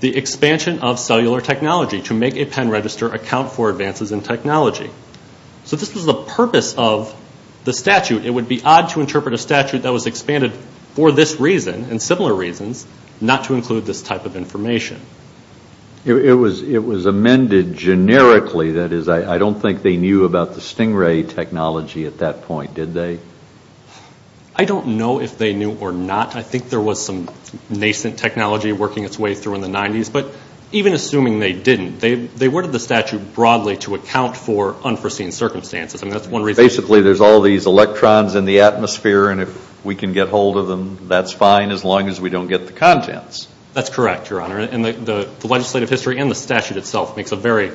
the expansion of cellular technology to make a pen register account for advances in technology. So this is the purpose of the statute. It would be odd to interpret a statute that was expanded for this reason and similar reasons not to include this type of information. It was amended generically. That is, I don't think they knew about the Stingray technology at that point, did they? I don't know if they knew or not. I think there was some nascent technology working its way through in the 90s. But even assuming they didn't, they worded the statute broadly to account for unforeseen circumstances. Basically, there's all these electrons in the atmosphere, and if we can get hold of them, that's fine as long as we don't get the contents. That's correct, Your Honor. The legislative history and the statute itself makes a very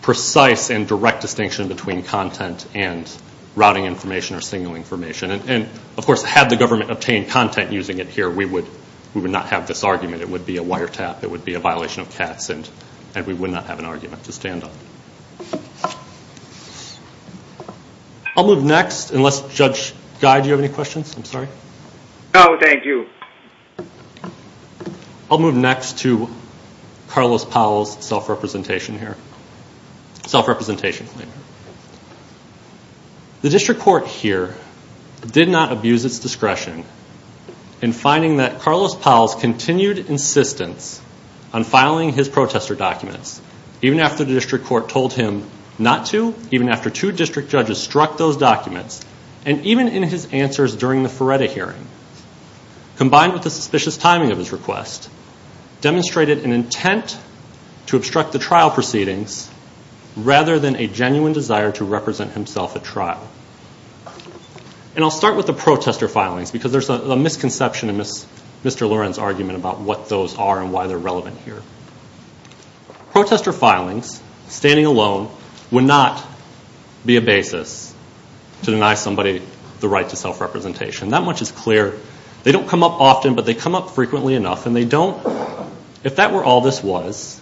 precise and direct distinction between content and routing information or single information. Of course, had the government obtained content using it here, we would not have this argument. It would be a wiretap. It would be a violation of tax, and we would not have an argument to stand on. I'll move next, unless Judge Guy, do you have any questions? I'm sorry. No, thank you. I'll move next to Carlos Powell's self-representation here. Self-representation. The district court here did not abuse its discretion in finding that Carlos Powell's continued insistence on filing his protester documents, even after the district court told him not to, even after two district judges struck those documents, and even in his answers during the Feretta hearing, combined with the suspicious timing of his request, demonstrated an intent to obstruct the trial proceedings rather than a genuine desire to represent himself at trial. And I'll start with the protester filings, because there's a misconception in Mr. Loren's argument about what those are and why they're relevant here. Protester filings, standing alone, would not be a basis to deny somebody the right to self-representation. That much is clear. They don't come up often, but they come up frequently enough, and if that were all this was,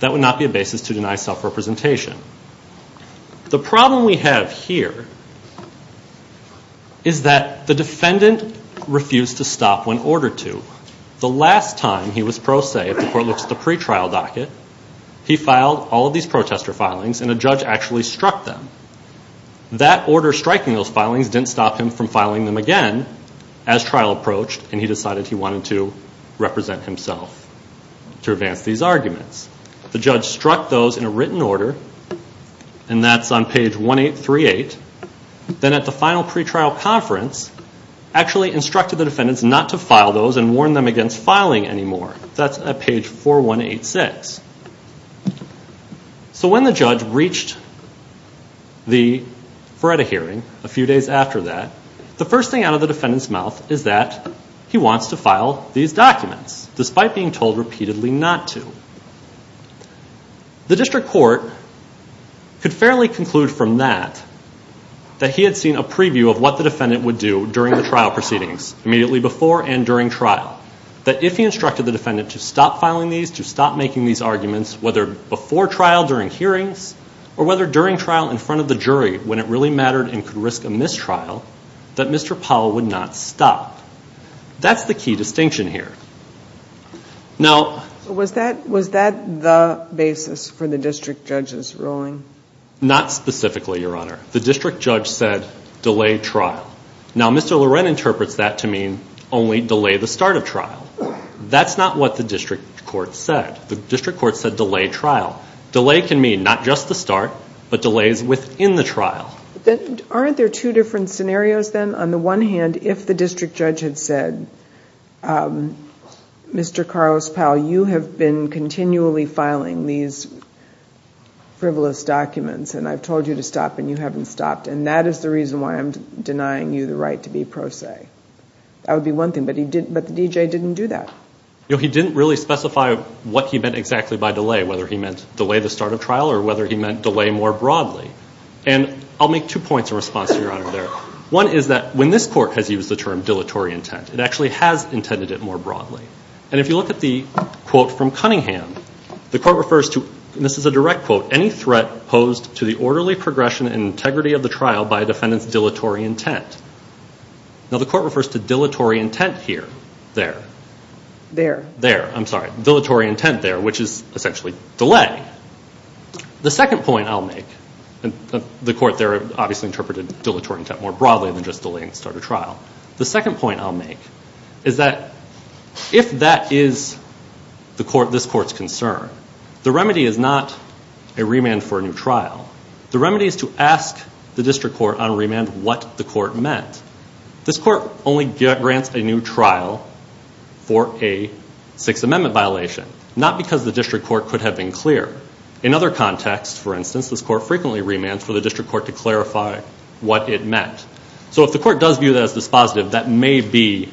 that would not be a basis to deny self-representation. The problem we have here is that the defendant refused to stop when ordered to. The last time he was pro se, before it was the pretrial docket, he filed all of these protester filings, and a judge actually struck them. That order striking those filings didn't stop him from filing them again as trial approached, and he decided he wanted to represent himself to advance these arguments. The judge struck those in a written order, and that's on page 1838. Then at the final pretrial conference, actually instructed the defendants not to file those and warned them against filing anymore. That's at page 4186. So when the judge reached the Beretta hearing a few days after that, the first thing out of the defendant's mouth is that he wants to file these documents, despite being told repeatedly not to. The district court could fairly conclude from that, that he had seen a preview of what the defendant would do during the trial proceedings, immediately before and during trial, that if he instructed the defendant to stop filing these, to stop making these arguments, whether before trial during hearings, or whether during trial in front of the jury, when it really mattered and could risk a mistrial, that Mr. Powell would not stop. That's the key distinction here. Was that the basis for the district judge's ruling? Not specifically, Your Honor. The district judge said delay trial. Now Mr. Loretta interprets that to mean only delay the start of trial. That's not what the district court said. The district court said delay trial. Delay can mean not just the start, but delays within the trial. Aren't there two different scenarios then? On the one hand, if the district judge had said, Mr. Carlos Powell, you have been continually filing these frivolous documents, and I've told you to stop and you haven't stopped, and that is the reason why I'm denying you the right to be pro se. That would be one thing, but the D.J. didn't do that. He didn't really specify what he meant exactly by delay, whether he meant delay the start of trial or whether he meant delay more broadly. And I'll make two points in response to Your Honor there. One is that when this court has used the term dilatory intent, it actually has intended it more broadly. And if you look at the quote from Cunningham, the court refers to, and this is a direct quote, any threat posed to the orderly progression and integrity of the trial by a defendant's dilatory intent. Now the court refers to dilatory intent here. There. There. There, I'm sorry. Dilatory intent there, which is essentially delay. The second point I'll make, the court there obviously interpreted dilatory intent more broadly than just delaying the start of trial. The second point I'll make is that if that is this court's concern, the remedy is not a remand for a new trial. The remedy is to ask the district court on remand what the court meant. This court only grants a new trial for a Sixth Amendment violation, not because the district court could have been clear. In other contexts, for instance, this court frequently remands for the district court to clarify what it meant. So if the court does view that as dispositive, that may be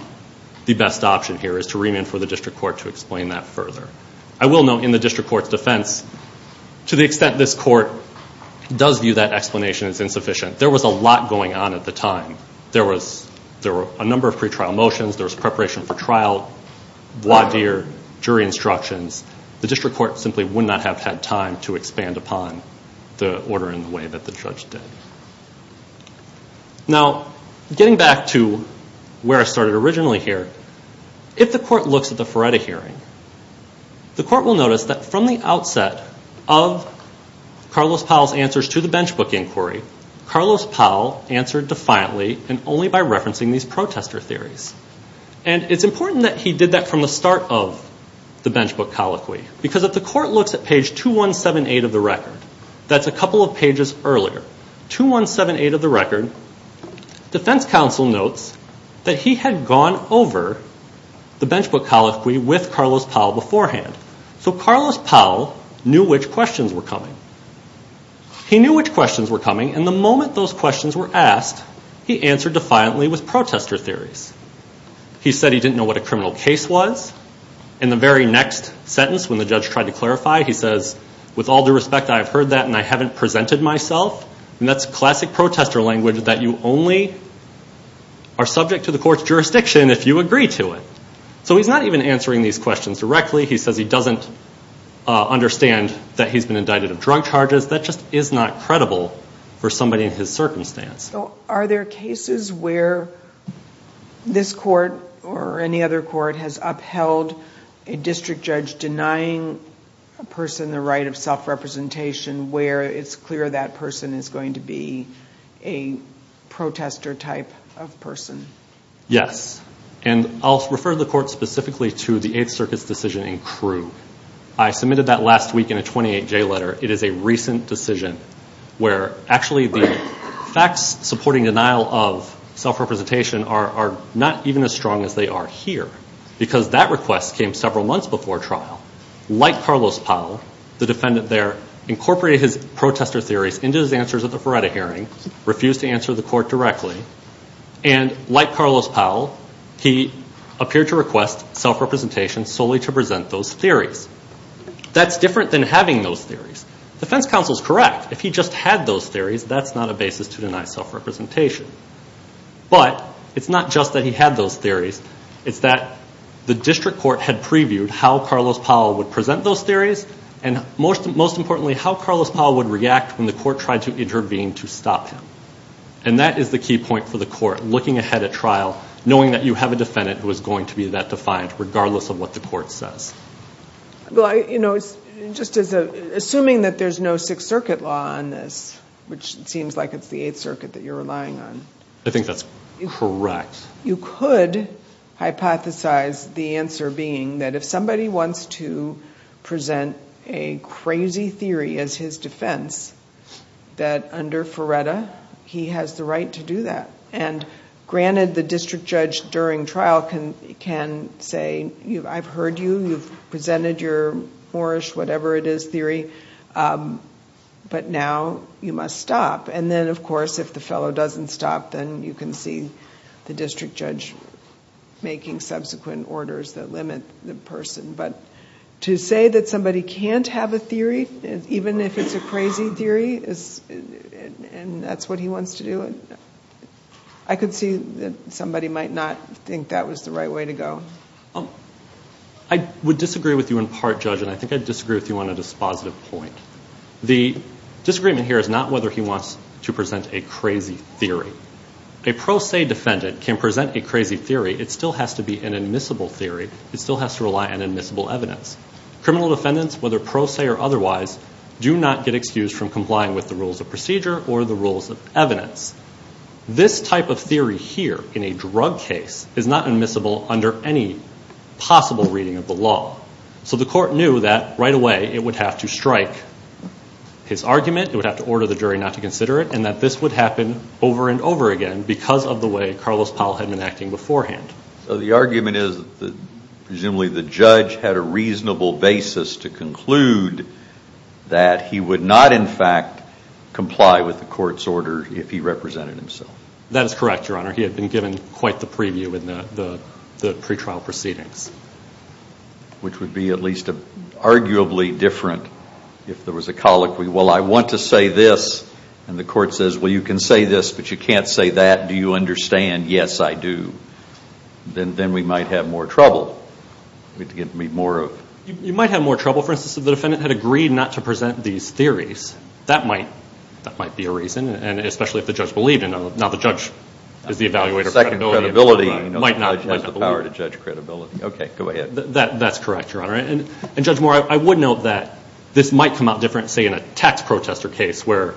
the best option here, is to remand for the district court to explain that further. I will note in the district court's defense, to the extent this court does view that explanation as insufficient, there was a lot going on at the time. There were a number of pretrial motions. There was preparation for trial, jury instructions. The district court simply would not have had time to expand upon the order in the way that the judge did. Now, getting back to where I started originally here, if the court looks at the Feretta hearing, the court will notice that from the outset of Carlos Powell's answers to the Benchbook Inquiry, Carlos Powell answered defiantly and only by referencing these protester theories. And it's important that he did that from the start of the Benchbook Colloquy, because if the court looks at page 2178 of the record, that's a couple of pages earlier, 2178 of the record, defense counsel notes that he had gone over the Benchbook Colloquy with Carlos Powell beforehand. So Carlos Powell knew which questions were coming. He knew which questions were coming, and the moment those questions were asked, he answered defiantly with protester theories. He said he didn't know what a criminal case was. In the very next sentence, when the judge tried to clarify, he says, with all due respect, I have heard that, and I haven't presented myself. And that's classic protester language, that you only are subject to the court's jurisdiction if you agree to it. So he's not even answering these questions directly. He says he doesn't understand that he's been indicted of drug charges. That just is not credible for somebody in his circumstance. So are there cases where this court or any other court has upheld a district judge denying a person the right of self-representation where it's clear that person is going to be a protester type of person? Yes. And I'll refer the court specifically to the Eighth Circuit's decision in Crewe. I submitted that last week in a 28-J letter. It is a recent decision where actually the facts supporting denial of self-representation are not even as strong as they are here because that request came several months before trial. Like Carlos Powell, the defendant there incorporated protester theories into his answers at the Feretta hearing, refused to answer the court directly, and like Carlos Powell, he appeared to request self-representation solely to present those theories. That's different than having those theories. The defense counsel is correct. If he just had those theories, that's not a basis to deny self-representation. But it's not just that he had those theories. It's that the district court had previewed how Carlos Powell would present those theories and most importantly, how Carlos Powell would react when the court tried to intervene to stop him. And that is the key point for the court, looking ahead at trial, knowing that you have a defendant who is going to be that defiant, regardless of what the court says. Assuming that there's no Sixth Circuit law on this, which seems like it's the Eighth Circuit that you're relying on. I think that's correct. You could hypothesize the answer being that if somebody wants to present a crazy theory as his defense, that under Feretta, he has the right to do that. Granted, the district judge during trial can say, I've heard you, you've presented your Moorish, whatever it is, theory, but now you must stop. And then, of course, if the fellow doesn't stop, then you can see the district judge making subsequent orders that limit the person. But to say that somebody can't have a theory, even if it's a crazy theory, and that's what he wants to do, I could see that somebody might not think that was the right way to go. I would disagree with you in part, Judge, and I think I'd disagree with you on a dispositive point. The disagreement here is not whether he wants to present a crazy theory. A pro se defendant can present the crazy theory. It still has to be an admissible theory. It still has to rely on admissible evidence. Criminal defendants, whether pro se or otherwise, do not get excused from complying with the rules of procedure or the rules of evidence. This type of theory here, in a drug case, is not admissible under any possible reading of the law. So the court knew that, right away, it would have to strike his argument, it would have to order the jury not to consider it, and that this would happen over and over again because of the way Carlos Powell had been acting beforehand. The argument is that presumably the judge had a reasonable basis to conclude that he would not, in fact, comply with the court's order if he represented himself. That is correct, Your Honor. He had been given quite the preview in the pretrial proceedings. Which would be at least arguably different if there was a colloquy, well, I want to say this, and the court says, well, you can say this, but you can't say that. Do you understand? Yes, I do. Then we might have more trouble. You might have more trouble, for instance, if the defendant had agreed not to present these theories. That might be a reason, and especially if the judge believed in them. Now, the judge is the evaluator of credibility. He has the power to judge credibility. Okay, go ahead. That's correct, Your Honor. Judge Moore, I would note that this might come out different, say, in a tax protester case where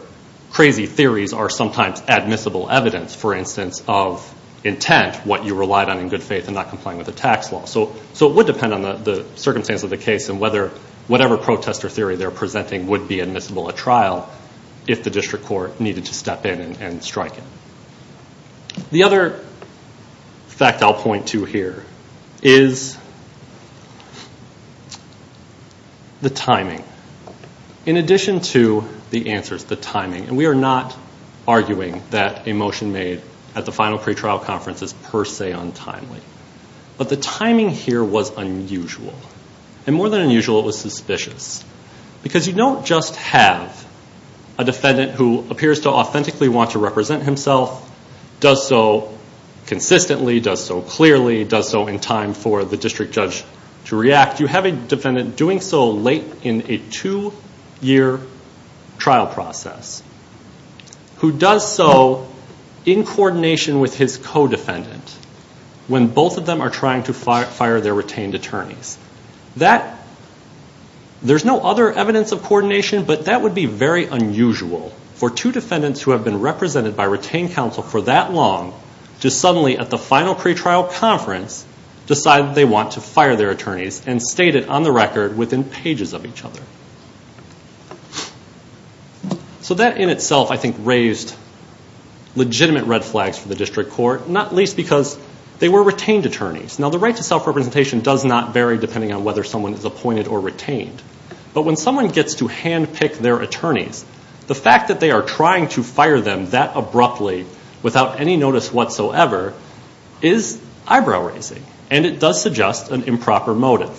crazy theories are sometimes admissible evidence, for instance, of intent, what you relied on in good faith and not complying with the tax law. So it would depend on the circumstance of the case and whatever protester theory they're presenting would be admissible at trial if the district court needed to step in and strike it. The other fact I'll point to here is the timing. In addition to the answers, the timing, and we are not arguing that a motion made at the final pretrial conference is per se untimely, but the timing here was unusual. And more than unusual, it was suspicious. Because you don't just have a defendant who appears to authentically want to represent himself, does so consistently, does so clearly, does so in time for the district judge to react. In fact, you have a defendant doing so late in a two-year trial process who does so in coordination with his co-defendant when both of them are trying to fire their retained attorneys. There's no other evidence of coordination, but that would be very unusual for two defendants who have been represented by retained counsel for that long to suddenly at the final pretrial conference decide they want to fire their attorneys and state it on the record within pages of each other. So that in itself, I think, raised legitimate red flags for the district court, not least because they were retained attorneys. Now, the right to self-representation does not vary depending on whether someone is appointed or retained. But when someone gets to handpick their attorneys, the fact that they are trying to fire them that abruptly without any notice whatsoever is eyebrow-raising, and it does suggest an improper motive.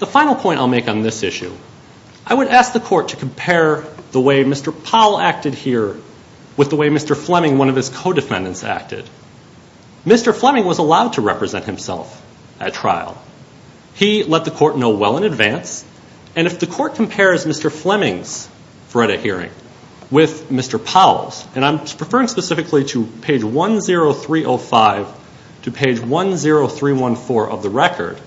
The final point I'll make on this issue, I would ask the court to compare the way Mr. Powell acted here with the way Mr. Fleming, one of his co-defendants, acted. Mr. Fleming was allowed to represent himself at trial. He let the court know well in advance, and if the court compares Mr. Fleming's FREDA hearing with Mr. Powell's, and I'm referring specifically to page 10305 to page 10314 of the record,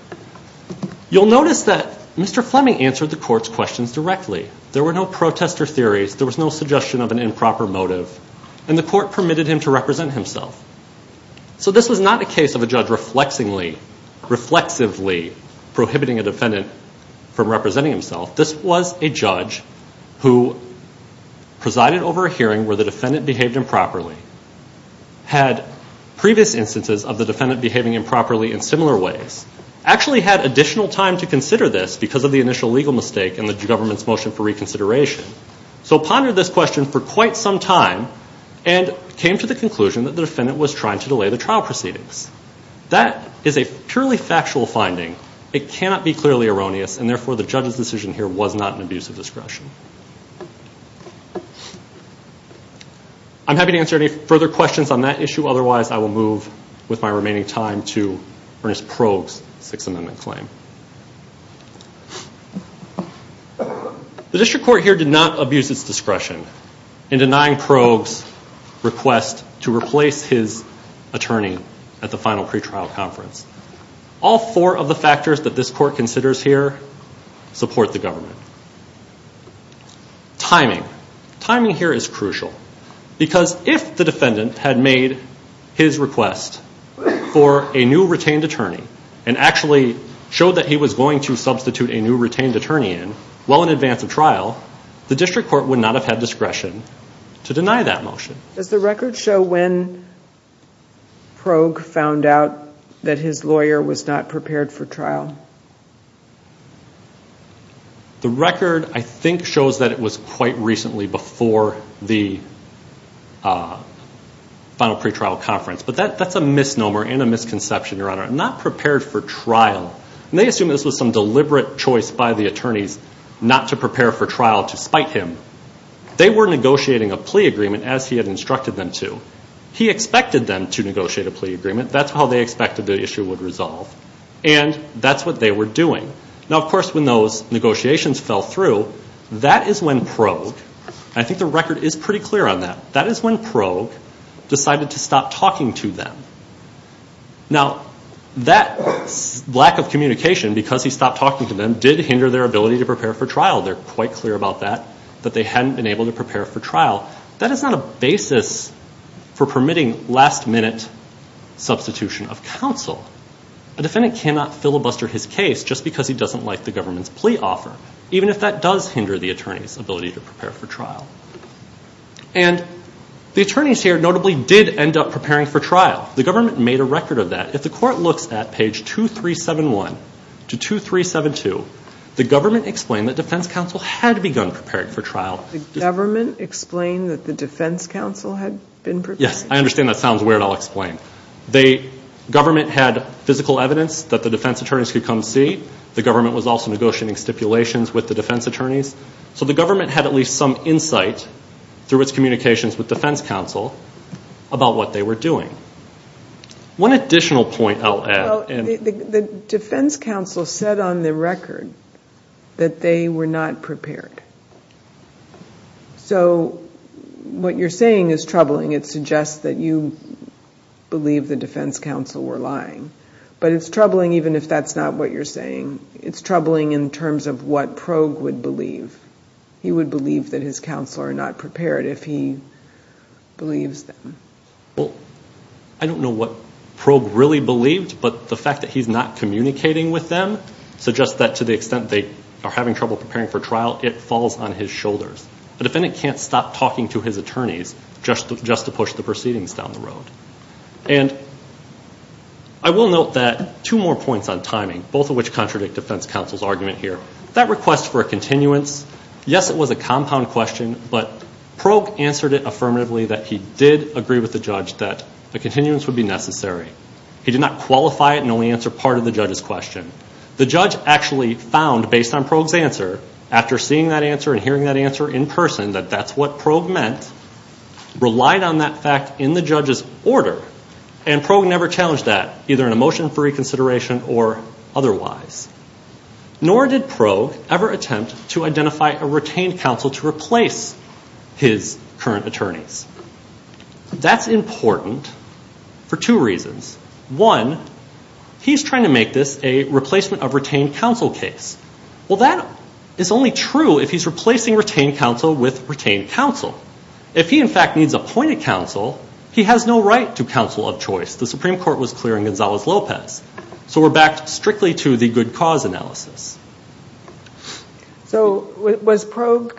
you'll notice that Mr. Fleming answered the court's questions directly. There were no protester theories. There was no suggestion of an improper motive, and the court permitted him to represent himself. So this is not a case of a judge reflexively prohibiting a defendant from representing himself. This was a judge who presided over a hearing where the defendant behaved improperly, had previous instances of the defendant behaving improperly in similar ways, actually had additional time to consider this because of the initial legal mistake and the government's motion for reconsideration, so pondered this question for quite some time and came to the conclusion that the defendant was trying to delay the trial proceedings. That is a purely factual finding. It cannot be clearly erroneous, and therefore the judge's decision here was not an abuse of discretion. I'm happy to answer any further questions on that issue, otherwise I will move with my remaining time to Ernest Probe's Sixth Amendment claim. The district court here did not abuse its discretion in denying Probe's request to replace his attorney at the final pretrial conference. All four of the factors that this court considers here support the government. Timing. Timing here is crucial, because if the defendant had made his request for a new retained attorney and actually showed that he was going to substitute a new retained attorney in well in advance of trial, the district court would not have had discretion to deny that motion. Does the record show when Probe found out that his lawyer was not prepared for trial? The record, I think, shows that it was quite recently before the final pretrial conference, but that's a misnomer and a misconception, Your Honor. Not prepared for trial, and they assume this was some deliberate choice by the attorneys not to prepare for trial to spite him. They were negotiating a plea agreement as he had instructed them to. He expected them to negotiate a plea agreement. That's how they expected the issue would resolve, and that's what they were doing. Now, of course, when those negotiations fell through, that is when Probe, and I think the record is pretty clear on that, that is when Probe decided to stop talking to them. Now, that lack of communication because he stopped talking to them did hinder their ability to prepare for trial. They're quite clear about that, that they hadn't been able to prepare for trial. That is not a basis for permitting last-minute substitution of counsel. A defendant cannot filibuster his case just because he doesn't like the government's plea offer, even if that does hinder the attorney's ability to prepare for trial. And the attorneys here notably did end up preparing for trial. The government made a record of that. If the court looks at page 2371 to 2372, the government explained that defense counsel had begun preparing for trial. The government explained that the defense counsel had been preparing? Yes, I understand that sounds weird. I'll explain. The government had physical evidence that the defense attorneys could come see. The government was also negotiating stipulations with the defense attorneys. So the government had at least some insight through its communications with defense counsel about what they were doing. One additional point I'll add. The defense counsel said on the record that they were not prepared. So what you're saying is troubling. It suggests that you believe the defense counsel were lying. But it's troubling even if that's not what you're saying. It's troubling in terms of what Progue would believe. He would believe that his counsel are not prepared if he believes them. Well, I don't know what Progue really believed, but the fact that he's not communicating with them suggests that to the extent they are having trouble preparing for trial, it falls on his shoulders. But then it can't stop talking to his attorneys just to push the proceedings down the road. And I will note that two more points on timing, both of which contradict defense counsel's argument here. That request for a continuance, yes, it was a compound question, but Progue answered it affirmatively that he did agree with the judge that a continuance would be necessary. He did not qualify it and only answer part of the judge's question. The judge actually found, based on Progue's answer, after seeing that answer and hearing that answer in person, that that's what Progue meant, relied on that fact in the judge's order. And Progue never challenged that, either in a motion for reconsideration or otherwise. Nor did Progue ever attempt to identify a retained counsel to replace his current attorneys. That's important for two reasons. One, he's trying to make this a replacement of retained counsel case. Well, that is only true if he's replacing retained counsel with retained counsel. If he, in fact, needs appointed counsel, he has no right to counsel of choice. The Supreme Court was clear in Gonzalez-Lopez. So we're back strictly to the good cause analysis. So was Progue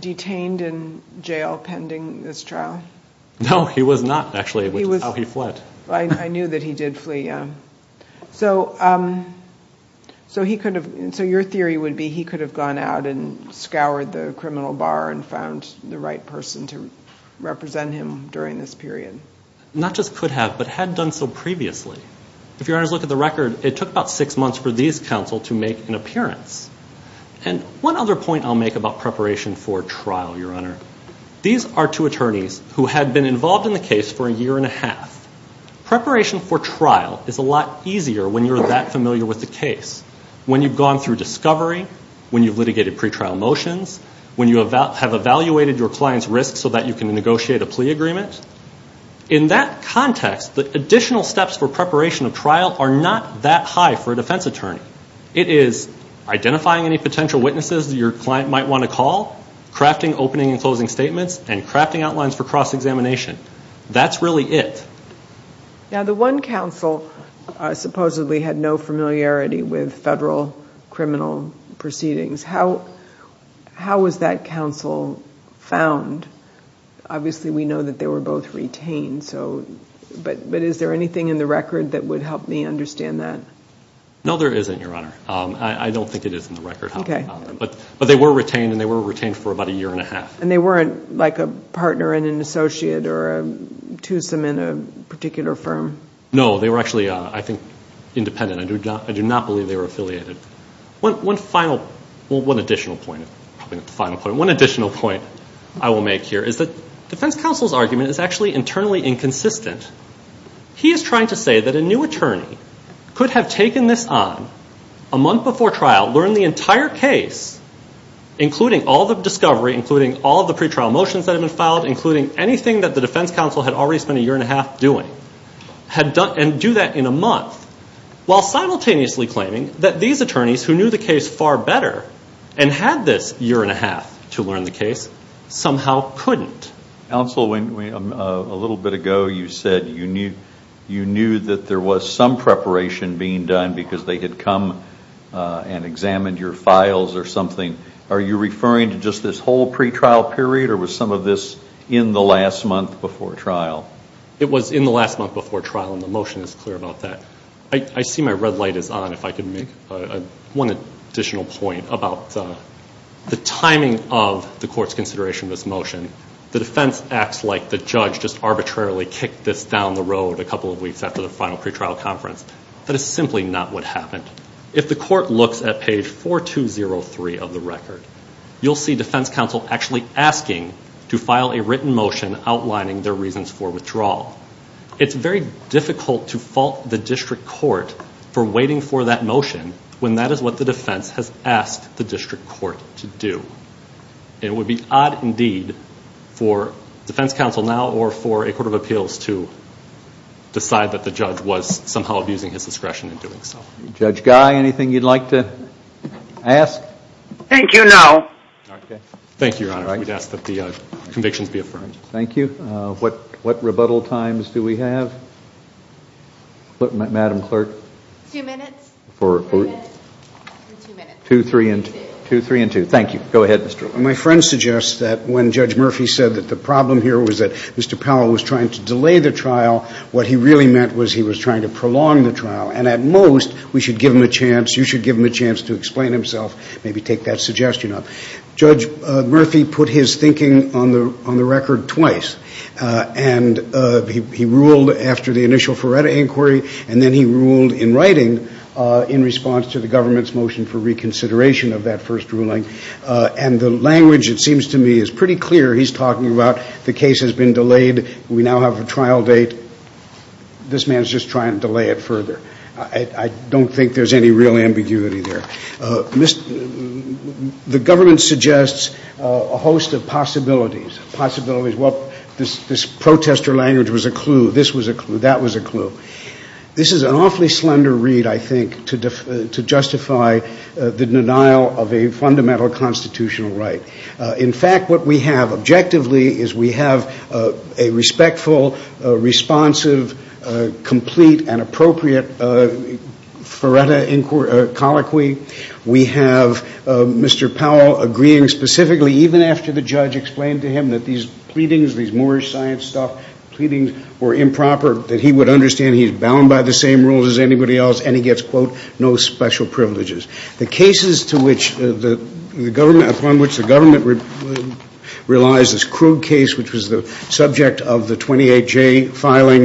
detained in jail pending this trial? No, he was not, actually. It was how he fled. I knew that he did flee. So your theory would be he could have gone out and scoured the criminal bar and found the right person to represent him during this period. Not just could have, but had done so previously. If your honors look at the record, it took about six months for these counsel to make an appearance. And one other point I'll make about preparation for trial, your honor. These are two attorneys who have been involved in the case for a year and a half. Preparation for trial is a lot easier when you're that familiar with the case, when you've gone through discovery, when you've litigated pretrial motions, when you have evaluated your client's risk so that you can negotiate a plea agreement. In that context, the additional steps for preparation of trial are not that high for a defense attorney. It is identifying any potential witnesses your client might want to call, crafting opening and closing statements, and crafting outlines for cross-examination. That's really it. Now the one counsel supposedly had no familiarity with federal criminal proceedings. How was that counsel found? Obviously, we know that they were both retained. But is there anything in the record that would help me understand that? No, there isn't, your honor. I don't think it is in the record. But they were retained, and they were retained for about a year and a half. And they weren't like a partner and an associate or a twosome in a particular firm? No, they were actually, I think, independent. I do not believe they were affiliated. One additional point I will make here is that the defense counsel's argument is actually internally inconsistent. He is trying to say that a new attorney could have taken this on a month before trial, learned the entire case, including all the discovery, including all the pretrial motions that have been filed, including anything that the defense counsel had already spent a year and a half doing, and do that in a month, while simultaneously claiming that these attorneys, who knew the case far better and had this year and a half to learn the case, somehow couldn't. Counsel, a little bit ago you said you knew that there was some preparation being done because they had come and examined your files or something. Are you referring to just this whole pretrial period, or was some of this in the last month before trial? It was in the last month before trial, and the motion is clear about that. I see my red light is on if I can make one additional point about the timing of the court's consideration of this motion. The defense acts like the judge just arbitrarily kicked this down the road a couple of weeks after the final pretrial conference. That is simply not what happened. If the court looks at page 4203 of the record, you will see defense counsel actually asking to file a written motion outlining their reasons for withdrawal. It's very difficult to fault the district court for waiting for that motion when that is what the defense has asked the district court to do. It would be odd indeed for defense counsel now or for a court of appeals to decide that the judge was somehow abusing his discretion in doing so. Judge Guy, anything you'd like to ask? Thank you, no. Thank you, Your Honor. We'd ask that the conviction be affirmed. Thank you. What rebuttal times do we have? Madam Clerk? Two minutes. For who? Two minutes. Two, three, and two. Two, three, and two. Thank you. Go ahead, Mr. Drew. My friend suggests that when Judge Murphy said that the problem here was that Mr. Powell was trying to delay the trial, what he really meant was he was trying to prolong the trial, and at most we should give him a chance, you should give him a chance to explain himself, maybe take that suggestion up. Judge Murphy put his thinking on the record twice, and he ruled after the initial Ferretta inquiry, and then he ruled in writing in response to the government's motion for reconsideration of that first ruling, and the language, it seems to me, is pretty clear. He's talking about the case has been delayed. We now have a trial date. This man is just trying to delay it further. I don't think there's any real ambiguity there. The government suggests a host of possibilities. Possibilities. Well, this protester language was a clue. This was a clue. That was a clue. This is an awfully slender read, I think, to justify the denial of a fundamental constitutional right. In fact, what we have objectively is we have a respectful, responsive, complete and appropriate Ferretta colloquy. We have Mr. Powell agreeing specifically, even after the judge explained to him that these pleadings, these Moorish science stuff pleadings were improper, that he would understand he's bound by the same rules as anybody else, and he gets, quote, no special privileges. The cases to which the government, upon which the government realized this crude case, which was the subject of the 28J filing,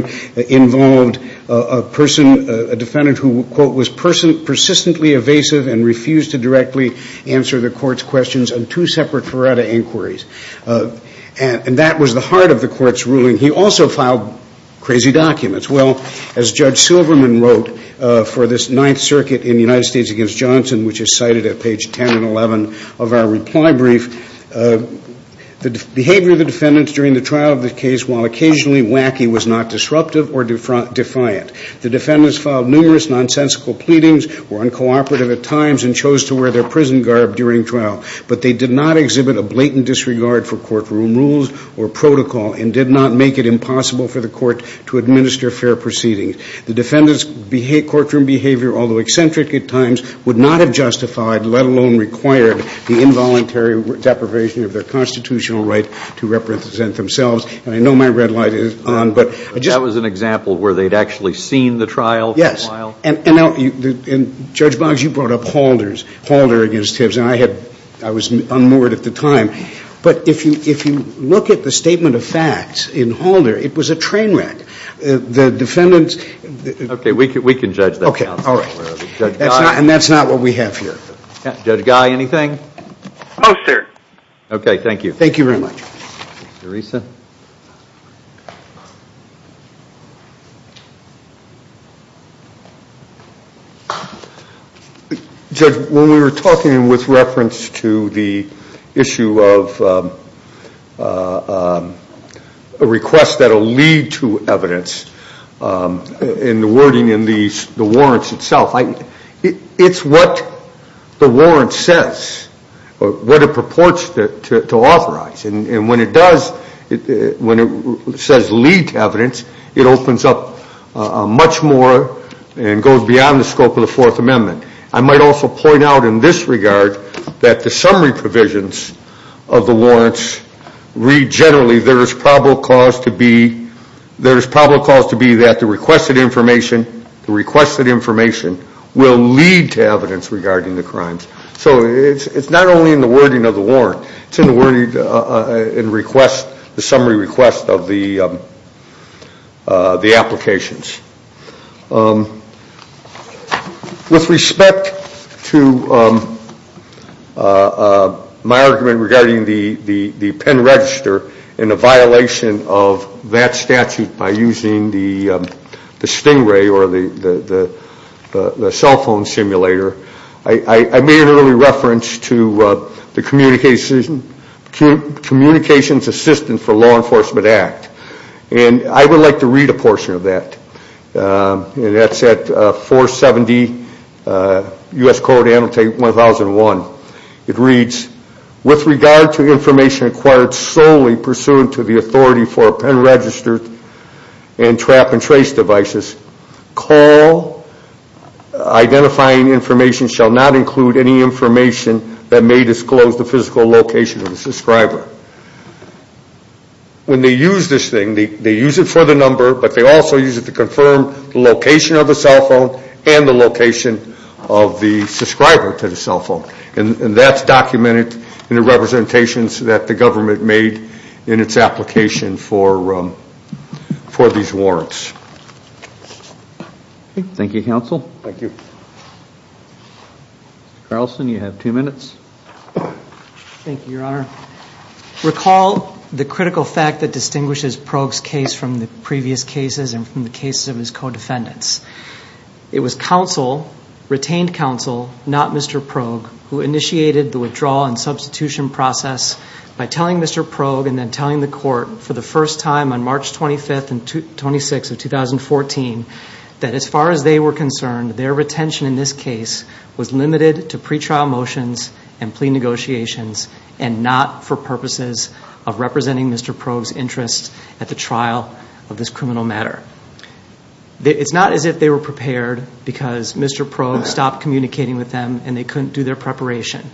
involved a defendant who, quote, was persistently evasive and refused to directly answer the court's questions on two separate Ferretta inquiries. And that was the heart of the court's ruling. He also filed crazy documents. Well, as Judge Silverman wrote for this Ninth Circuit in the United States against Johnson, which is cited at page 10 and 11 of our reply brief, the behavior of the defendants during the trial of the case, while occasionally wacky, was not disruptive or defiant. The defendants filed numerous nonsensical pleadings, were uncooperative at times, and chose to wear their prison garb during trial. But they did not exhibit a blatant disregard for courtroom rules or protocol and did not make it impossible for the court to administer fair proceedings. The defendants' courtroom behavior, although eccentric at times, would not have justified, let alone required, the involuntary deprivation of their constitutional right to represent themselves. I know my red light is on. That was an example where they'd actually seen the trial. Yes. And Judge Boggs, you brought up Halder against Tibbs, and I was unmoored at the time. But if you look at the statement of facts in Halder, it was a train wreck. The defendants... Okay, we can judge that. Okay, all right. And that's not what we have here. Judge Guy, anything? No, sir. Okay, thank you. Thank you very much. Teresa? Judge, when we were talking with reference to the issue of a request that'll lead to evidence, and the wording in the warrants itself, it's what the warrant says, what it purports to authorize. And when it does, when it says lead to evidence, it opens up much more and goes beyond the scope of the Fourth Amendment. I might also point out in this regard that the summary provisions of the warrants read generally, there is probable cause to be that the requested information will lead to evidence regarding the crimes. So it's not only in the wording of the warrant. It's in the summary request of the applications. With respect to my argument regarding the pen register and the violation of that statute by using the stowaway or the cell phone simulator, I made an early reference to the Communications Assistance for Law Enforcement Act. And I would like to read a portion of that. That's at 470 U.S. Code Annotate 1001. It reads, with regard to information acquired solely pursuant to the authority for a pen register and trap and trace devices, call identifying information shall not include any information that may disclose the physical location of the subscriber. When they use this thing, they use it for the number, but they also use it to confirm the location of the cell phone and the location of the subscriber to the cell phone. And that's documented in the representations that the government made in its application for these warrants. Thank you, Counsel. Thank you. Thank you, Your Honor. Recall the critical fact that distinguishes Prog's case from the previous cases and from the cases of his co-defendants. It was counsel, retained counsel, not Mr. Prog, who initiated the withdrawal and substitution process by telling Mr. Prog and then telling the court for the first time on March 25th and 26th of 2014 that as far as they were concerned, their retention in this case was limited to pretrial motions and plea negotiations and not for purposes of representing Mr. Prog's interests at the trial of this criminal matter. It's not as if they were prepared because Mr. Prog stopped communicating with them and they couldn't do their preparation.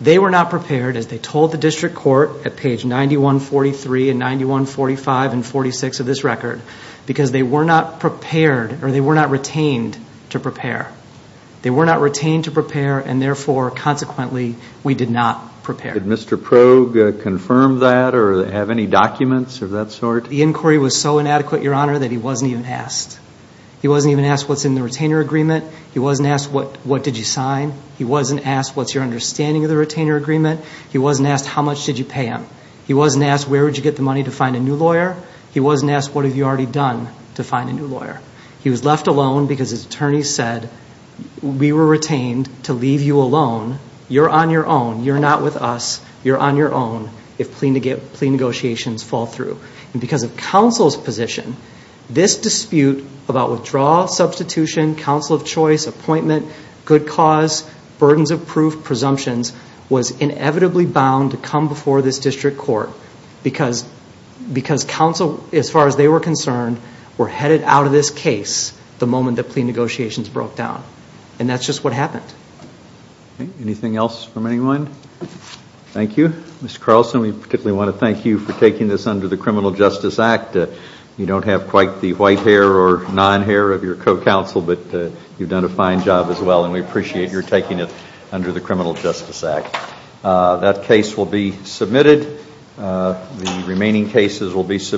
They were not prepared as they told the district court at page 9143 and 9145 and 46 of this record because they were not prepared or they were not retained to prepare. They were not retained to prepare and therefore, consequently, we did not prepare. Did Mr. Prog confirm that or have any documents of that sort? The inquiry was so inadequate, Your Honor, that he wasn't even asked. He wasn't even asked what's in the retainer agreement. He wasn't asked what did you sign. He wasn't asked what's your understanding of the retainer agreement. He wasn't asked how much did you pay him. He wasn't asked where would you get the money to find a new lawyer. He wasn't asked what have you already done to find a new lawyer. He was left alone because his attorney said we were retained to leave you alone. You're on your own. You're not with us. You're on your own if plea negotiations fall through. And because of counsel's position, this dispute about withdrawal, substitution, counsel of choice, appointment, good cause, burdens of proof, presumptions was inevitably bound to come before this district court because counsel, as far as they were concerned, were headed out of this case the moment the plea negotiations broke down. And that's just what happened. Anything else from anyone? Thank you. Mr. Carlson, we particularly want to thank you for taking this under the Criminal Justice Act. You don't have quite the white hair or non-hair of your co-counsel, but you've done a fine job as well and we appreciate your taking it under the Criminal Justice Act. That case will be submitted. The remaining cases will be submitted.